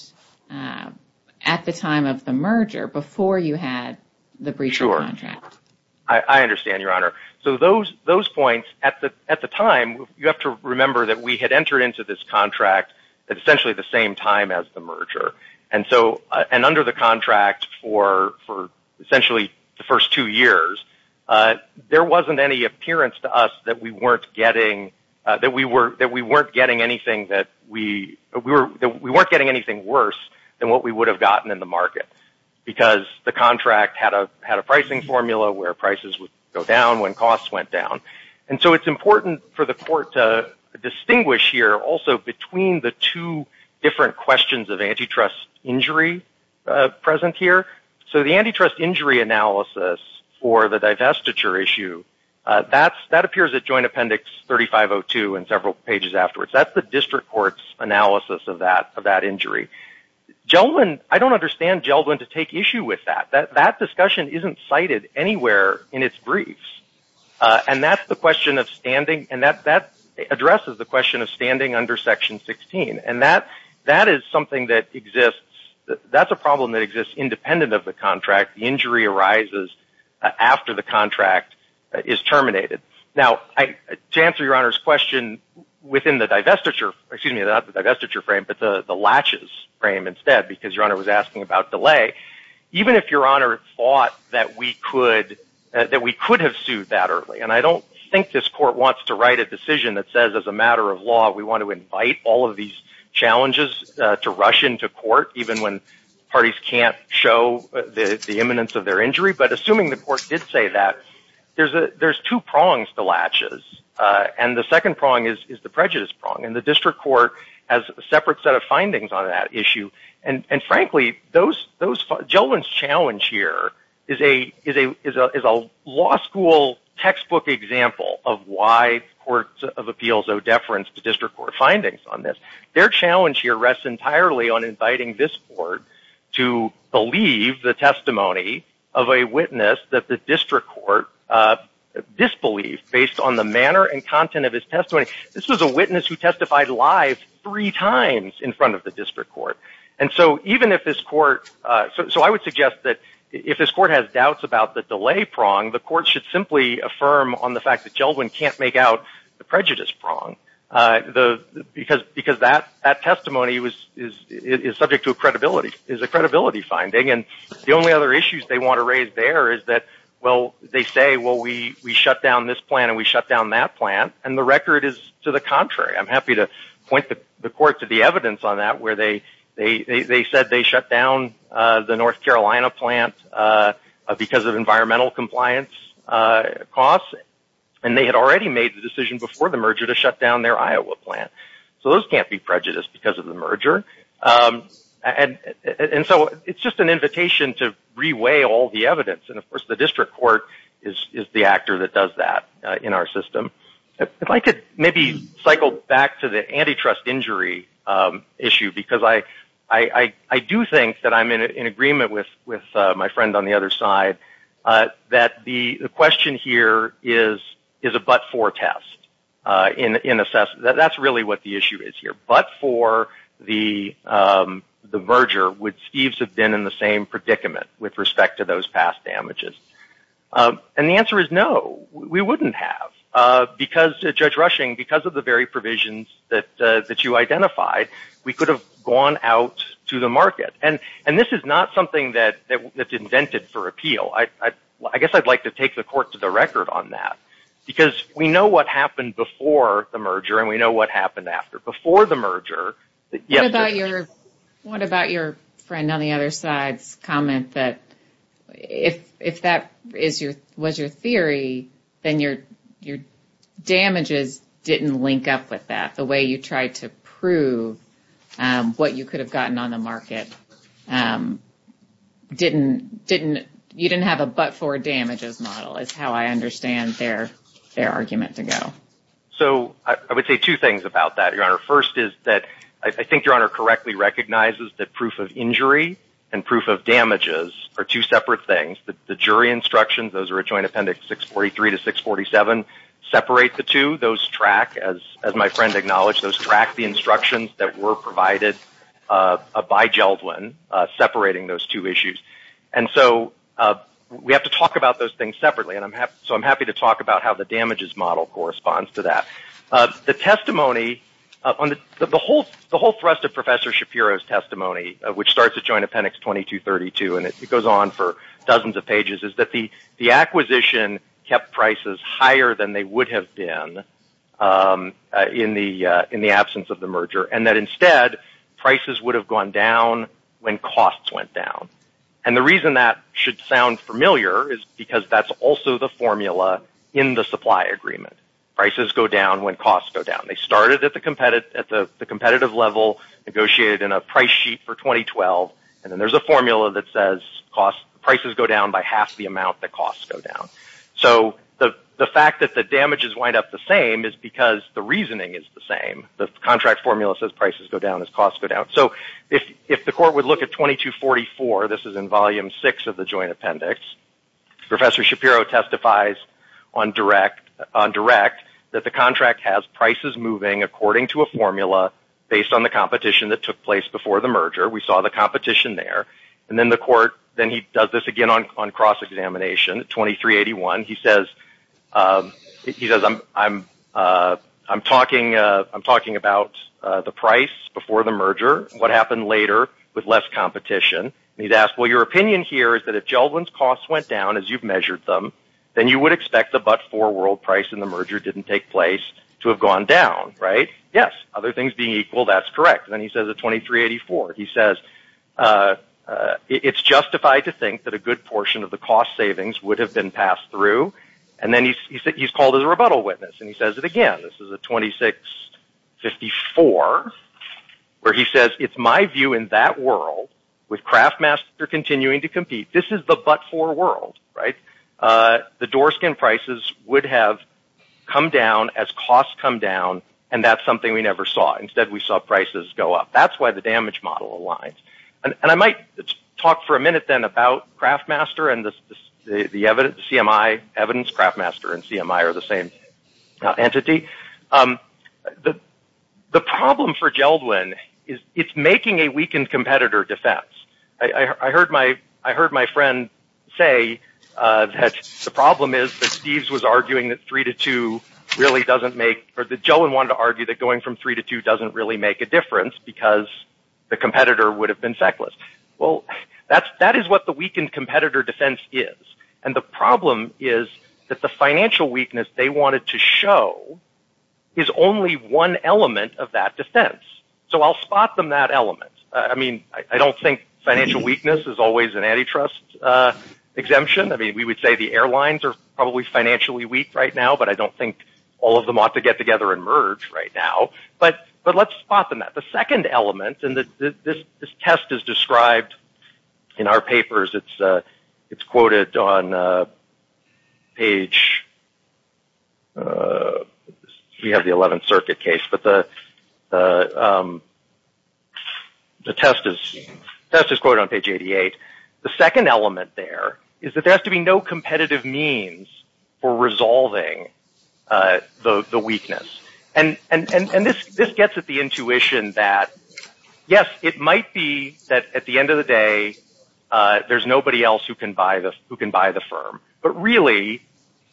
at the time of the merger before you had the breach of contract. Sure. I understand, Your Honor. So those points at the time, you have to remember that we had entered into this contract at essentially the same time as the merger. And under the contract for essentially the first two years, there wasn't any appearance to us that we weren't getting anything worse than what we would have gotten in the market because the contract had a pricing formula where prices would go down when costs went down. And so it's important for the court to distinguish here also between the two different questions of antitrust injury present here. So the antitrust injury analysis for the digestiture issue, that appears at Joint Appendix 3502 and several pages afterwards. That's the district court's analysis of that injury. I don't understand Geldwin to take issue with that. That discussion isn't cited anywhere in its briefs. And that addresses the question of standing under Section 16. And that is something that exists. That's a problem that exists independent of the contract. The injury arises after the contract is terminated. Now, to answer Your Honor's question within the digestiture frame, but the latches frame instead because Your Honor was asking about delay, even if Your Honor thought that we could have sued that early, and I don't think this court wants to write a decision that says as a matter of law we want to invite all of these challenges to rush into court, even when parties can't show the imminence of their injury. But assuming the court did say that, there's two prongs to latches. And the second prong is the prejudice prong. And the district court has a separate set of findings on that issue. And frankly, Geldwin's challenge here is a law school textbook example of why courts of appeals owe deference to district court findings on this. Their challenge here rests entirely on inviting this court to believe the testimony of a witness that the district court disbelieved based on the manner and content of his testimony. This was a witness who testified lies three times in front of the district court. And so even if this court, so I would suggest that if this court has doubts about the delay prong, the court should simply affirm on the fact that Geldwin can't make out the prejudice prong, because that testimony is subject to a credibility finding. And the only other issues they want to raise there is that, well, they say, well, we shut down this plant and we shut down that plant, and the record is to the contrary. I'm happy to point the court to the evidence on that, where they said they shut down the North Carolina plant because of environmental compliance costs, and they had already made the decision before the merger to shut down their Iowa plant. So those can't be prejudiced because of the merger. And so it's just an invitation to reweigh all the evidence. And, of course, the district court is the actor that does that in our system. If I could maybe cycle back to the antitrust injury issue, because I do think that I'm in agreement with my friend on the other side that the question here is a but-for test. That's really what the issue is here. But for the merger, would Steve's have been in the same predicament with respect to those past damages? And the answer is no, we wouldn't have. Because, Judge Rushing, because of the very provisions that you identified, we could have gone out to the market. And this is not something that's invented for appeal. I guess I'd like to take the court to the record on that, because we know what happened before the merger and we know what happened after. What about your friend on the other side's comment that if that was your theory, then your damages didn't link up with that? The way you tried to prove what you could have gotten on the market, you didn't have a but-for damages model, is how I understand their argument to go. I would say two things about that, Your Honor. First is that I think Your Honor correctly recognizes that proof of injury and proof of damages are two separate things. The jury instructions, those are Joint Appendix 643 to 647, separate the two. Those track, as my friend acknowledged, those track the instructions that were provided by Jeldwyn separating those two issues. We have to talk about those things separately, so I'm happy to talk about how the damages model corresponds to that. The whole thrust of Professor Shapiro's testimony, which starts at Joint Appendix 2232 and it goes on for dozens of pages, is that the acquisition kept prices higher than they would have been in the absence of the merger, and that instead, prices would have gone down when costs went down. The reason that should sound familiar is because that's also the formula in the supply agreement. Prices go down when costs go down. They started at the competitive level, negotiated in a price sheet for 2012, and then there's a formula that says prices go down by half the amount that costs go down. The fact that the damages wind up the same is because the reasoning is the same. The contract formula says prices go down as costs go down. If the court would look at 2244, this is in Volume 6 of the Joint Appendix, Professor Shapiro testifies on direct that the contract has prices moving according to a formula based on the competition that took place before the merger. We saw the competition there. Then he does this again on cross-examination. He says, I'm talking about the price before the merger. What happened later with less competition? He's asked, well, your opinion here is that if Geldman's costs went down as you've measured them, then you would expect the but-for world price in the merger didn't take place to have gone down, right? Yes, other things being equal, that's correct. Then he says at 2384, he says, it's justified to think that a good portion of the cost savings would have been passed through. Then he's called as a rebuttal witness. He says it again. This is at 2654, where he says, it's my view in that world with Craftmaster continuing to compete. This is the but-for world, right? The door skin prices would have come down as costs come down, and that's something we never saw. Instead, we saw prices go up. That's why the damage model aligns. I might talk for a minute then about Craftmaster and the evidence, CMI evidence. Craftmaster and CMI are the same entity. The problem for Geldman is it's making a weakened competitor defense. I heard my friend say that the problem is that Steve's was arguing that 3 to 2 really doesn't make – or that Geldman wanted to argue that going from 3 to 2 doesn't really make a difference because the competitor would have been feckless. That is what the weakened competitor defense is. The problem is that the financial weakness they wanted to show is only one element of that defense. I'll spot them that element. I don't think financial weakness is always an antitrust exemption. We would say the airlines are probably financially weak right now, but I don't think all of them ought to get together and merge right now. But let's spot them at the second element. This test is described in our papers. It's quoted on page – we have the 11th Circuit case, but the test is quoted on page 88. The second element there is that there has to be no competitive means for resolving the weakness. This gets at the intuition that yes, it might be that at the end of the day, there's nobody else who can buy the firm, but really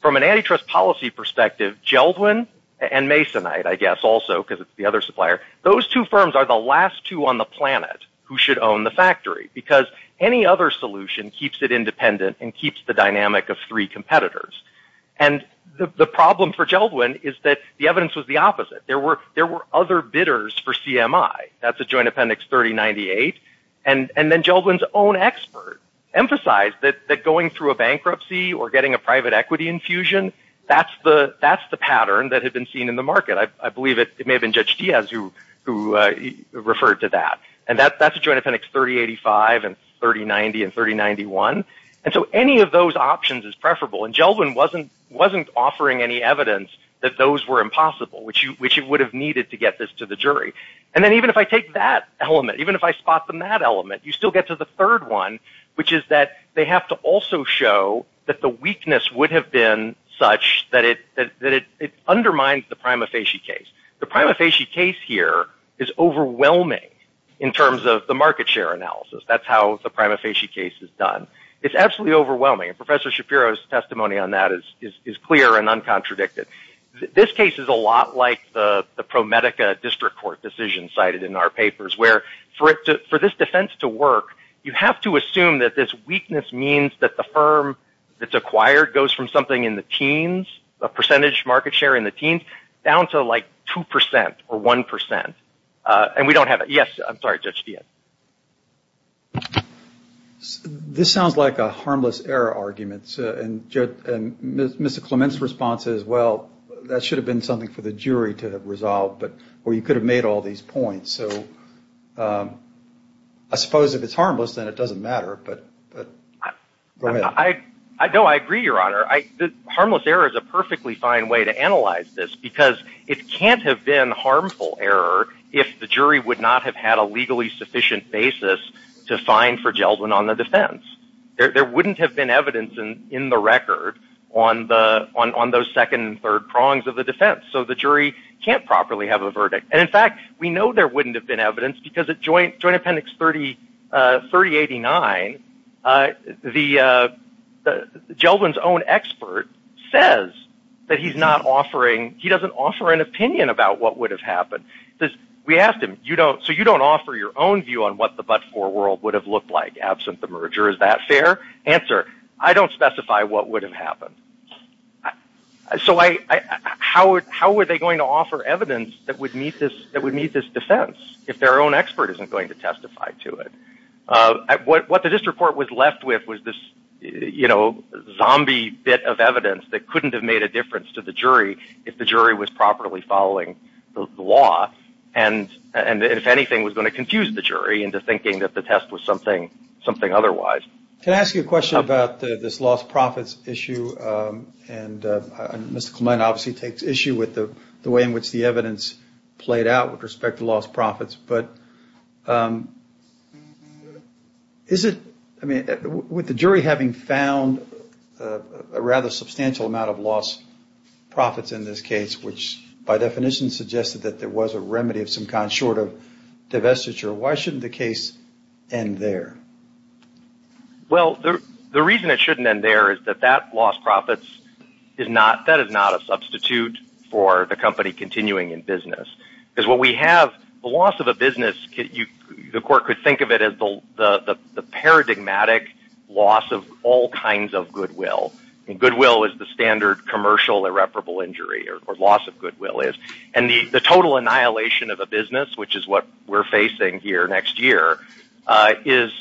from an antitrust policy perspective, Geldman and Masonite I guess also because it's the other supplier, those two firms are the last two on the planet who should own the factory because any other solution keeps it independent and keeps the dynamic of three competitors. The problem for Geldman is that the evidence was the opposite. There were other bidders for CMI. That's a joint appendix 3098. Then Geldman's own expert emphasized that going through a bankruptcy or getting a private equity infusion, that's the pattern that had been seen in the market. I believe it may have been Judge Diaz who referred to that. That's a joint appendix 3085 and 3090 and 3091. Any of those options is preferable. Geldman wasn't offering any evidence that those were impossible, which it would have needed to get this to the jury. Then even if I take that element, even if I spot the mad element, you still get to the third one, which is that they have to also show that the weakness would have been such that it undermines the prima facie case. The prima facie case here is overwhelming in terms of the market share analysis. That's how the prima facie case is done. It's absolutely overwhelming. Professor Shapiro's testimony on that is clear and uncontradicted. This case is a lot like the ProMedica district court decision cited in our papers where for this defense to work, you have to assume that this weakness means that the firm that's acquired goes from something in the teens, the percentage market share in the teens, down to like 2% or 1%. We don't have it. Yes, I'm sorry, Judge Diaz. This sounds like a harmless error argument, and Mr. Clement's response is, well, that should have been something for the jury to have resolved, or you could have made all these points. So I suppose if it's harmless, then it doesn't matter, but go ahead. No, I agree, Your Honor. Harmless error is a perfectly fine way to analyze this because it can't have been harmful error if the jury would not have had a legally sufficient basis to find for Gelbin on the defense. There wouldn't have been evidence in the record on those second and third prongs of the defense, so the jury can't properly have a verdict. And, in fact, we know there wouldn't have been evidence because at Joint Appendix 3089, Gelbin's own expert says that he's not offering – we asked him, so you don't offer your own view on what the but-for world would have looked like absent the merger, is that fair? Answer, I don't specify what would have happened. So how were they going to offer evidence that would meet this defense if their own expert isn't going to testify to it? What this report was left with was this zombie bit of evidence that couldn't have made a difference to the jury if the jury was properly following the law and, if anything, was going to confuse the jury into thinking that the test was something otherwise. Can I ask you a question about this lost profits issue? And Mr. Clement obviously takes issue with the way in which the evidence played out with respect to lost profits. But is it – I mean, with the jury having found a rather substantial amount of lost profits in this case, which by definition suggested that there was a remedy of some kind short of divestiture, why shouldn't the case end there? Well, the reason it shouldn't end there is that that lost profits is not – that is not a substitute for the company continuing in business. Because what we have, the loss of a business, the court could think of it as the paradigmatic loss of all kinds of goodwill. And goodwill is the standard commercial irreparable injury, or loss of goodwill is. And the total annihilation of a business, which is what we're facing here next year, is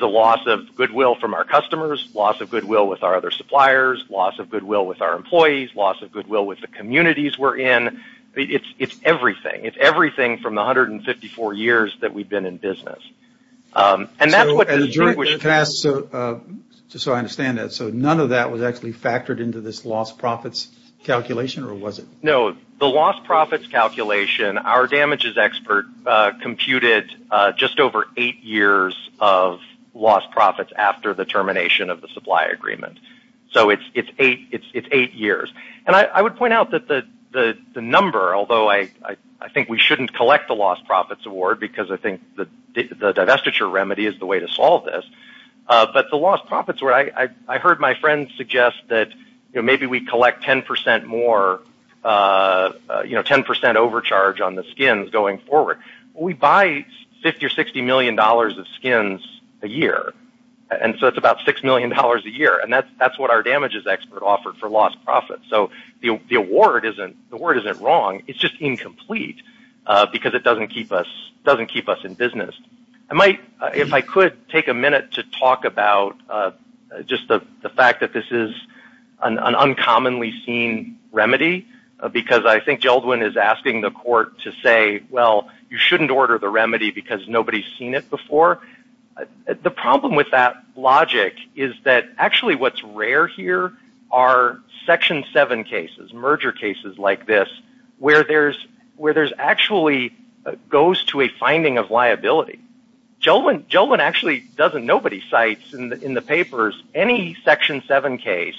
a loss of goodwill from our customers, loss of goodwill with our other suppliers, loss of goodwill with our employees, loss of goodwill with the communities we're in. It's everything. It's everything from the 154 years that we've been in business. And that's what – So I understand that. So none of that was actually factored into this lost profits calculation, or was it? No. The lost profits calculation, our damages expert computed just over eight years of lost profits after the termination of the supply agreement. So it's eight years. And I would point out that the number, although I think we shouldn't collect the lost profits award because I think the divestiture remedy is the way to solve this, but the lost profits, I heard my friend suggest that maybe we collect 10% more, 10% overcharge on the skins going forward. We buy 50 or $60 million of skins a year, and so it's about $6 million a year. And that's what our damages expert offered for lost profits. So the award isn't wrong. It's just incomplete because it doesn't keep us in business. If I could take a minute to talk about just the fact that this is an uncommonly seen remedy because I think Geldwin is asking the court to say, well, you shouldn't order the remedy because nobody's seen it before. The problem with that logic is that actually what's rare here are Section 7 cases, merger cases like this, where there's actually goes to a finding of liability. Geldwin actually doesn't, nobody cites in the papers any Section 7 case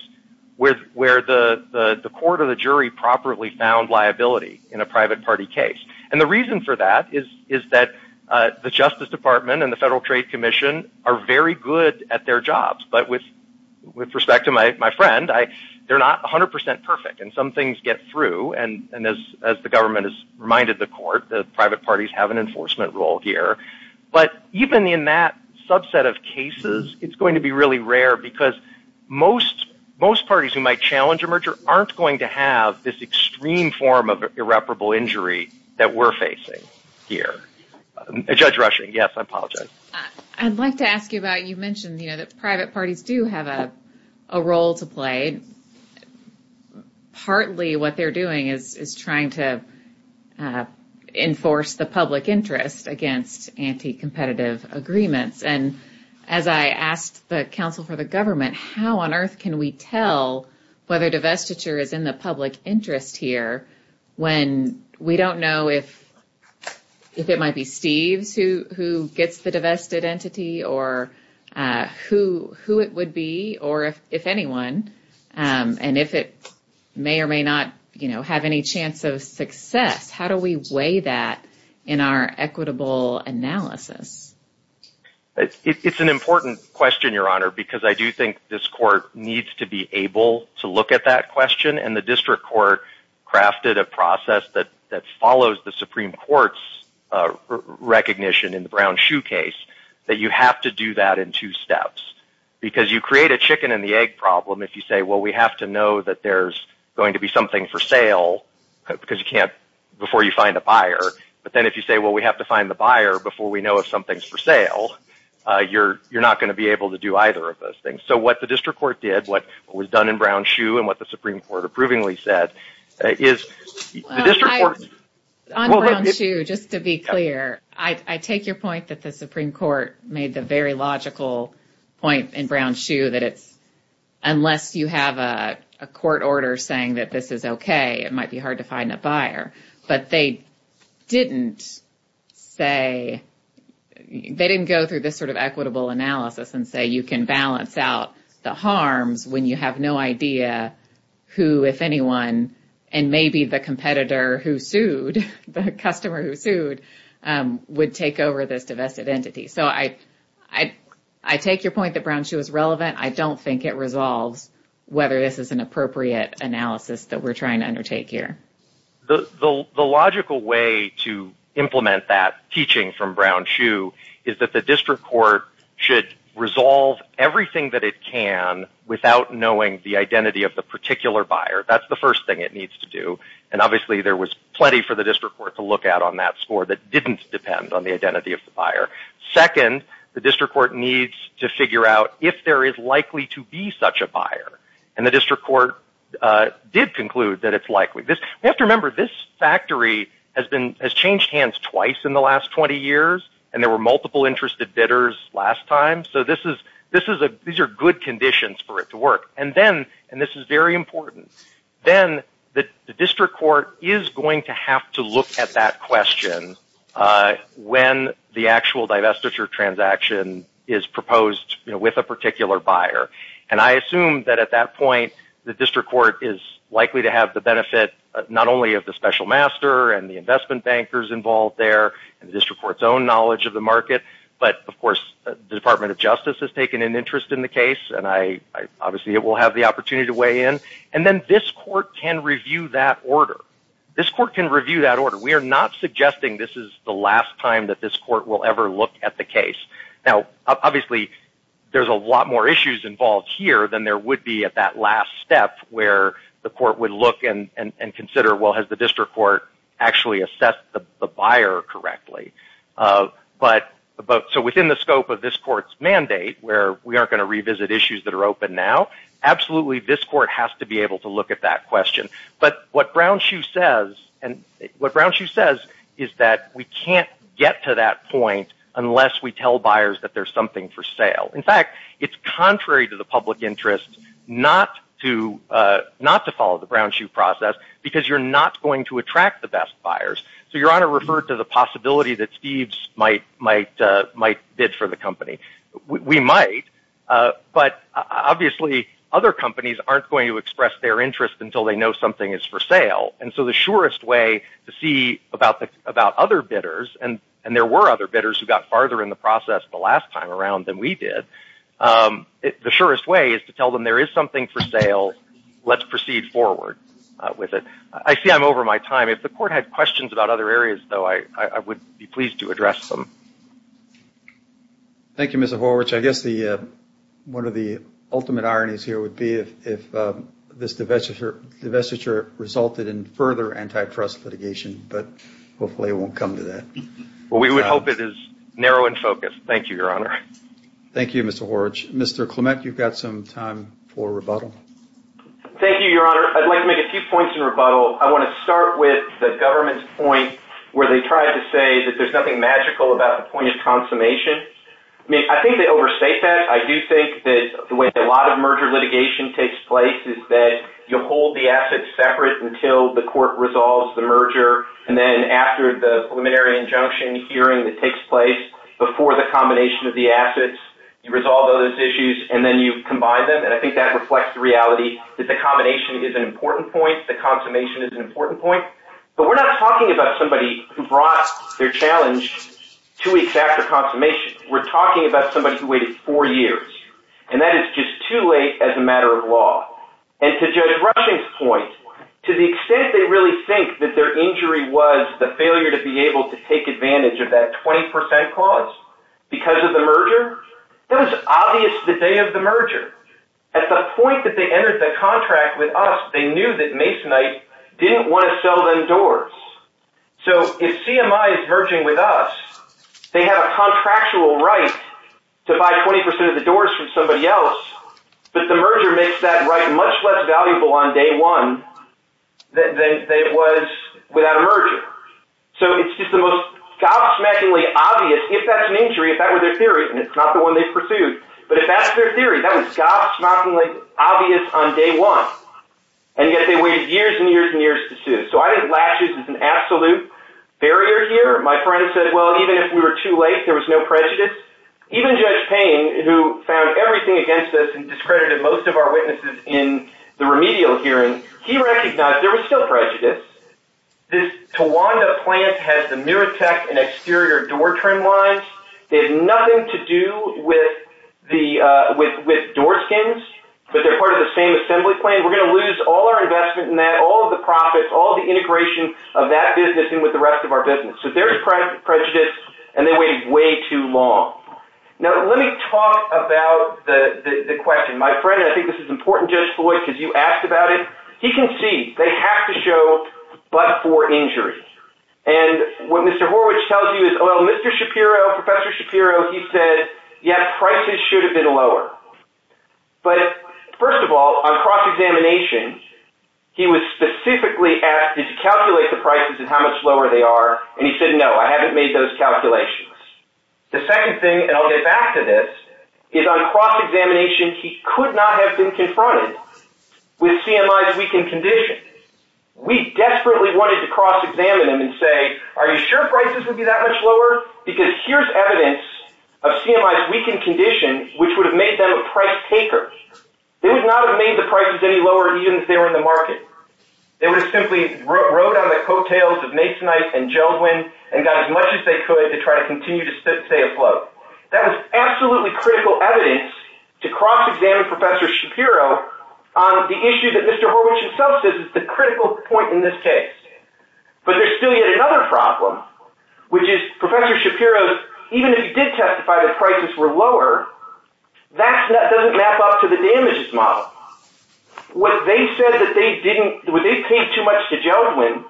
where the court or the jury properly found liability in a private party case. And the reason for that is that the Justice Department and the Federal Trade Commission are very good at their jobs, but with respect to my friend, they're not 100% perfect, and some things get through, and as the government has reminded the court, the private parties have an enforcement role here. But even in that subset of cases, it's going to be really rare because most parties who might challenge a merger aren't going to have this extreme form of irreparable injury that we're facing here. Judge Rushing, yes, I apologize. I'd like to ask you about, you mentioned that private parties do have a role to play. Partly what they're doing is trying to enforce the public interest against anti-competitive agreements, and as I asked the counsel for the government, how on earth can we tell whether divestiture is in the public interest here when we don't know if it might be Steve who gets the divested entity or who it would be or if anyone, and if it may or may not have any chance of success? How do we weigh that in our equitable analysis? It's an important question, Your Honor, because I do think this court needs to be able to look at that question, and the district court crafted a process that follows the Supreme Court's recognition in the Brown Shoe case that you have to do that in two steps because you create a chicken-and-the-egg problem if you say, well, we have to know that there's going to be something for sale because you can't before you find a buyer, but then if you say, well, we have to find the buyer before we know if something's for sale, you're not going to be able to do either of those things. So what the district court did, what was done in Brown Shoe and what the Supreme Court approvingly said is the district court – On Brown Shoe, just to be clear, I take your point that the Supreme Court made the very logical point in Brown Shoe that it's unless you have a court order saying that this is okay, it might be hard to find a buyer, but they didn't say – they didn't go through this sort of equitable analysis and say you can balance out the harms when you have no idea who, if anyone, and maybe the competitor who sued, the customer who sued, would take over this divestive entity. So I take your point that Brown Shoe is relevant. I don't think it resolves whether this is an appropriate analysis that we're trying to undertake here. The logical way to implement that teaching from Brown Shoe is that the district court should resolve everything that it can without knowing the identity of the particular buyer. That's the first thing it needs to do, and obviously there was plenty for the district court to look at on that score that didn't depend on the identity of the buyer. Second, the district court needs to figure out if there is likely to be such a buyer, and the district court did conclude that it's likely. You have to remember this factory has changed hands twice in the last 20 years, and there were multiple interested bidders last time, so these are good conditions for it to work. And then, and this is very important, then the district court is going to have to look at that question when the actual divestiture transaction is proposed with a particular buyer, and I assume that at that point, the district court is likely to have the benefit not only of the special master and the investment bankers involved there and the district court's own knowledge of the market, but of course the Department of Justice has taken an interest in the case, and obviously it will have the opportunity to weigh in, and then this court can review that order. This court can review that order. We are not suggesting this is the last time that this court will ever look at the case. Now, obviously, there's a lot more issues involved here than there would be at that last step where the court would look and consider, well, has the district court actually assessed the buyer correctly? But, so within the scope of this court's mandate, where we aren't going to revisit issues that are open now, absolutely this court has to be able to look at that question. But what Brownshoe says is that we can't get to that point unless we tell buyers that there's something for sale. In fact, it's contrary to the public interest not to follow the Brownshoe process because you're not going to attract the best buyers. So Your Honor referred to the possibility that Steve's might bid for the company. We might, but obviously other companies aren't going to express their interest until they know something is for sale. And so the surest way to see about other bidders, and there were other bidders who got farther in the process the last time around than we did, the surest way is to tell them there is something for sale, let's proceed forward with it. I see I'm over my time. If the court had questions about other areas, though, I would be pleased to address them. Thank you, Mr. Horwich. I guess one of the ultimate ironies here would be if this divestiture resulted in further antitrust litigation, but hopefully it won't come to that. We would hope it is narrow in focus. Thank you, Your Honor. Thank you, Mr. Horwich. Mr. Clement, you've got some time for rebuttal. Thank you, Your Honor. I'd like to make a few points in rebuttal. I want to start with the government's point where they tried to say that there's nothing magical about the point of consummation. I think they overstate that. I do think that the way a lot of merger litigation takes place is that you hold the assets separate until the court resolves the merger, and then after the preliminary injunction hearing that takes place, before the combination of the assets, you resolve those issues, and then you combine them. I think that reflects the reality that the combination is an important point. The consummation is an important point. But we're not talking about somebody who brought their challenge two weeks after consummation. We're talking about somebody who waited four years, and that is just too late as a matter of law. And to Judge Rushing's point, to the extent they really think that their injury was the failure to be able to take advantage of that 20% clause because of the merger, it was obvious the day of the merger. At the point that they entered the contract with us, they knew that Masonite didn't want to sell them doors. So if CMI is merging with us, they have a contractual right to buy 20% of the doors from somebody else, but the merger makes that right much less valuable on day one than it was without a merger. So it's just the most gobsmackingly obvious, if that's an injury, if that was their theory, and it's not the one they pursued, but if that's their theory, that was gobsmackingly obvious on day one, and yet they waited years and years and years to sue. So I think last year was an absolute barrier here. My friend said, well, even if we were too late, there was no prejudice. Even Judge Payne, who found everything against us and discredited most of our witnesses in the remedial hearing, he recognized there was still prejudice. This Tawanda plant has the newer tech and exterior door trim lines. They have nothing to do with door skins, but they're part of the same assembly plane. We're going to lose all our investment in that, all of the profits, all the integration of that business in with the rest of our business. So there's prejudice, and they waited way too long. Now, let me talk about the question. My friend, and I think this is important, Judge Floyd, because you asked about it, he can see they have to show but for injury. And what Mr. Horwich tells you is, well, Mr. Shapiro, Professor Shapiro, he said, yes, prices should have been lower. But first of all, on cross-examination, he was specifically asked, did you calculate the prices and how much lower they are? And he said, no, I haven't made those calculations. The second thing, and I'll get back to this, is on cross-examination, he could not have been confronted with CMI's weakened condition. We desperately wanted to cross-examine him and say, are you sure prices would be that much lower? Because here's evidence of CMI's weakened condition, which would make them a price taker. They would not have made the prices any lower even if they were in the market. They would have simply rode on the coattails of Masonite and Jogwin and got as much as they could to try to continue to stay afloat. That was absolutely critical evidence to cross-examine Professor Shapiro on the issue that Mr. Horwich himself says is the critical point in this case. But there's still yet another problem, which is Professor Shapiro's, even though he did testify that prices were lower, that doesn't map up to the damages model. What they said was they paid too much to Jogwin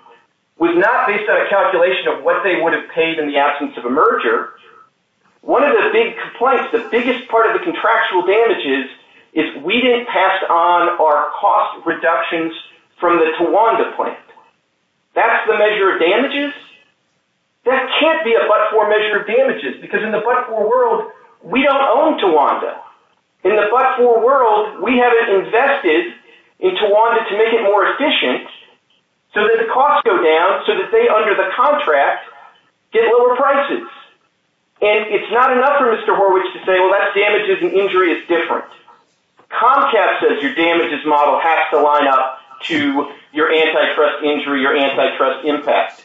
was not based on a calculation of what they would have paid in the absence of a merger. One of the big complaints, the biggest part of the contractual damages, is we didn't pass on our cost reductions from the Tawanda plant. That's the measure of damages? That can't be a but-for measure of damages, because in the but-for world, we don't own Tawanda. In the but-for world, we have invested in Tawanda to make it more efficient so that the costs go down so that they, under the contract, get lower prices. And it's not enough for Mr. Horwich to say, well, that damages and injury is different. Comcast says your damages model has to line up to your antitrust injury, your antitrust impact.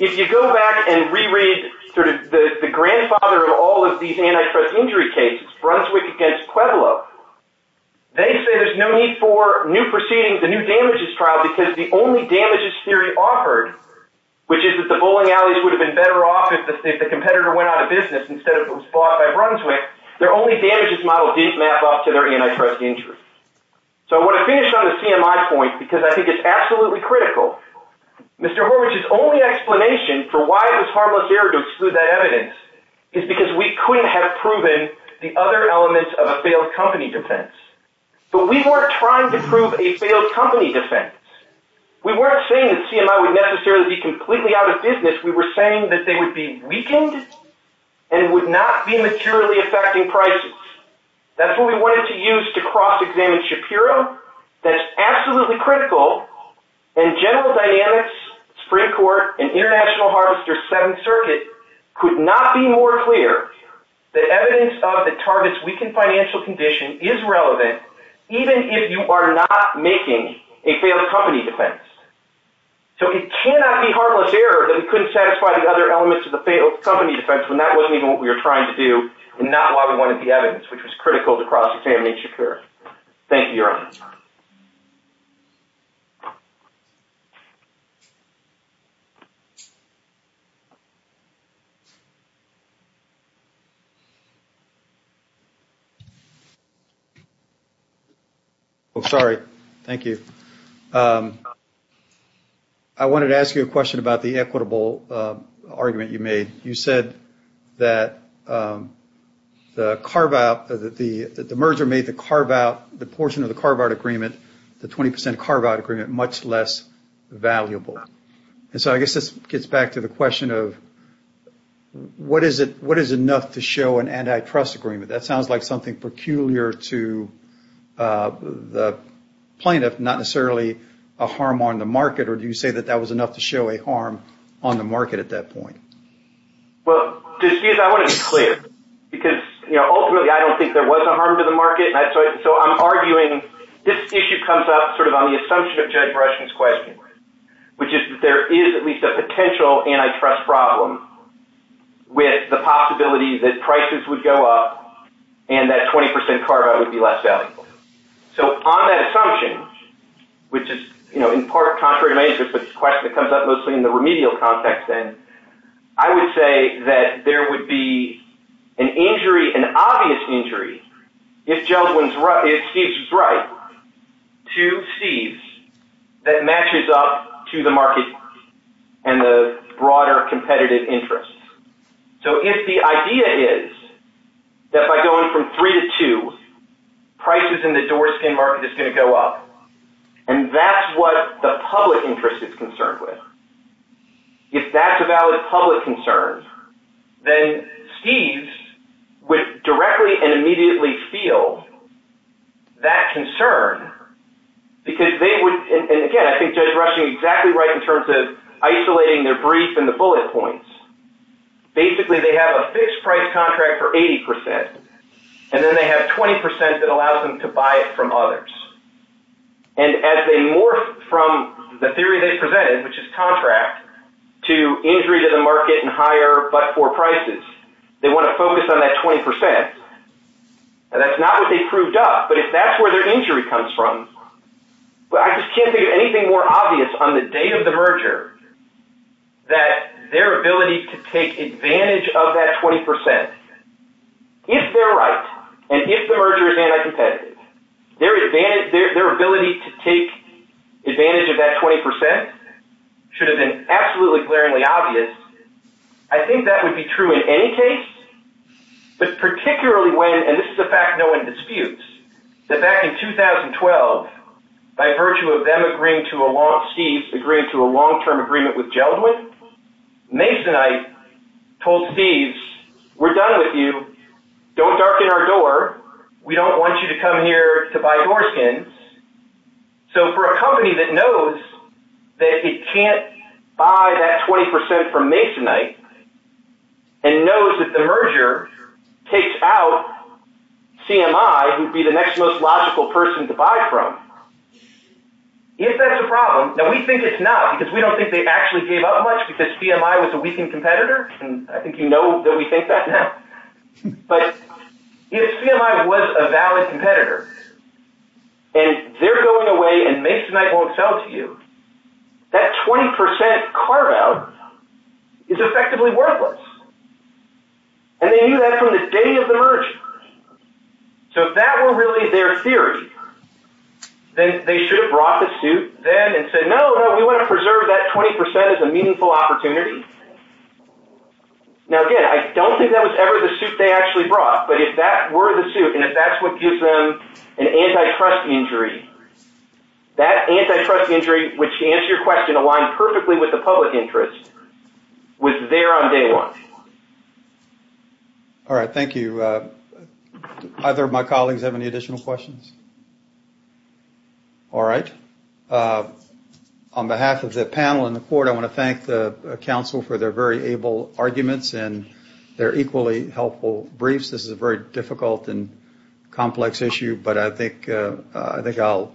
If you go back and re-read the grandfather of all of these antitrust injury cases, Brunswick against Pueblo, they say there's no need for new proceedings, a new damages trial, because the only damages theory offered, which is that the bowling alleys would have been better off if the competitor went out of business instead of what was fought by Brunswick, their only damages model did map up to their antitrust injury. So I want to finish on the CMI point, because I think it's absolutely critical. Mr. Horwich's only explanation for why the Tarbos area excluded that evidence is because we couldn't have proven the other elements of a failed company defense. But we weren't trying to prove a failed company defense. We weren't saying that CMI would necessarily be completely out of business. We were saying that they would be weakened and would not be materially affecting prices. That's what we wanted to use to cross-examine Shapiro. That's absolutely critical. And General Dynamics, Supreme Court, and International Harvester's Seventh Circuit could not be more clear that evidence of a target's weakened financial condition is relevant, even if you are not making a failed company defense. So it cannot be harmless error that we couldn't satisfy the other elements of the failed company defense, and that wasn't even what we were trying to do, and that's why we wanted the evidence, which was critical to cross-examine Shapiro. Thank you, Your Honor. Oh, sorry. Thank you. I wanted to ask you a question about the equitable argument you made. You said that the merger made the portion of the carve-out agreement, the 20% carve-out agreement, much less valuable. And so I guess this gets back to the question of what is enough to show an anti-trust agreement? That sounds like something peculiar to the plaintiff, not necessarily a harm on the market, or do you say that that was enough to show a harm on the market at that point? Well, I want to be clear, because ultimately I don't think there was a harm to the market, so I'm arguing this issue comes up sort of on the assumption of Jennifer Eschen's question, which is that there is at least a potential anti-trust problem with the possibility that prices would go up and that 20% carve-out would be less valuable. So on that assumption, which is in part contrary to many of the questions that come up mostly in the remedial context, I would say that there would be an obvious injury if Judge Winslow is right to seize that matches up to the market and the broader competitive interest. So if the idea is that by going from three to two, prices in the door skin market is going to go up, and that's what the public interest is concerned with, if that's a valid public concern, then Steve's would directly and immediately feel that concern because they would, and again, I think Judge Rush is exactly right in terms of isolating the brief and the bullet points. Basically, they have a fixed-price contract for 80%, and then they have 20% that allows them to buy it from others. And as they morph from the theory they presented, which is contract, to injury to the market and higher but-for prices, they want to focus on that 20%, and that's not what they've proved up, but if that's where their injury comes from, I just can't think of anything more obvious on the day of the merger that their ability to take advantage of that 20%, if they're right, and if the merger is anti-competitive, their ability to take advantage of that 20% should have been absolutely glaringly obvious. I think that would be true in any case, but particularly when, and this is a fact known in disputes, that back in 2012, by virtue of them agreeing to a long- Steve's agreeing to a long-term agreement with Geldman, Mace and I told Steve's, we're done with you, don't darken our door, we don't want you to come here to buy door skins, so for a company that knows that it can't buy that 20% from Mace and I, and knows that the merger takes out CMI, who would be the next most logical person to buy from, if that's a problem, and we think it's not, because we don't think they actually gave up much because CMI was a weakened competitor, and I think you know that we think that now, but if CMI was a valid competitor, and they're going away and Mace and I won't sell to you, that 20% cart out is effectively worthless, and they knew that from the day of the merger, so if that were really their theory, then they should have brought the suit then and said no, we want to preserve that 20% as a meaningful opportunity, now again, I don't think that was ever the suit they actually brought, but if that were the suit, and if that's what gives them an antitrust injury, that antitrust injury, which to answer your question, aligns perfectly with the public interest, was there on day one. All right, thank you. Either of my colleagues have any additional questions? All right. On behalf of the panel and the board, I want to thank the council for their very able arguments and their equally helpful briefs. This is a very difficult and complex issue, but I think I'll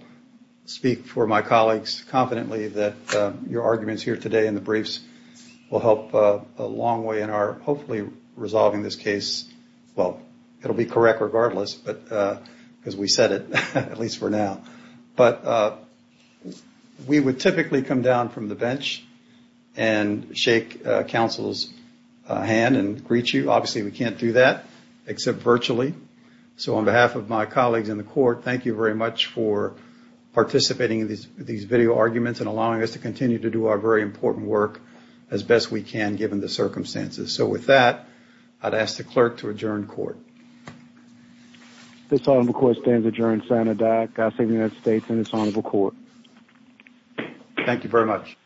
speak for my colleagues confidently that your arguments here today and the briefs will help a long way in our hopefully resolving this case. Well, it'll be correct regardless, because we said it, at least for now. But we would typically come down from the bench and shake council's hand and greet you. Obviously, we can't do that, except virtually. So on behalf of my colleagues in the court, thank you very much for participating in these video arguments and allowing us to continue to do our very important work as best we can, given the circumstances. So with that, I'd ask the clerk to adjourn court. This honorable court stands adjourned, Senator Dyck. I thank the United States and this honorable court. Thank you very much.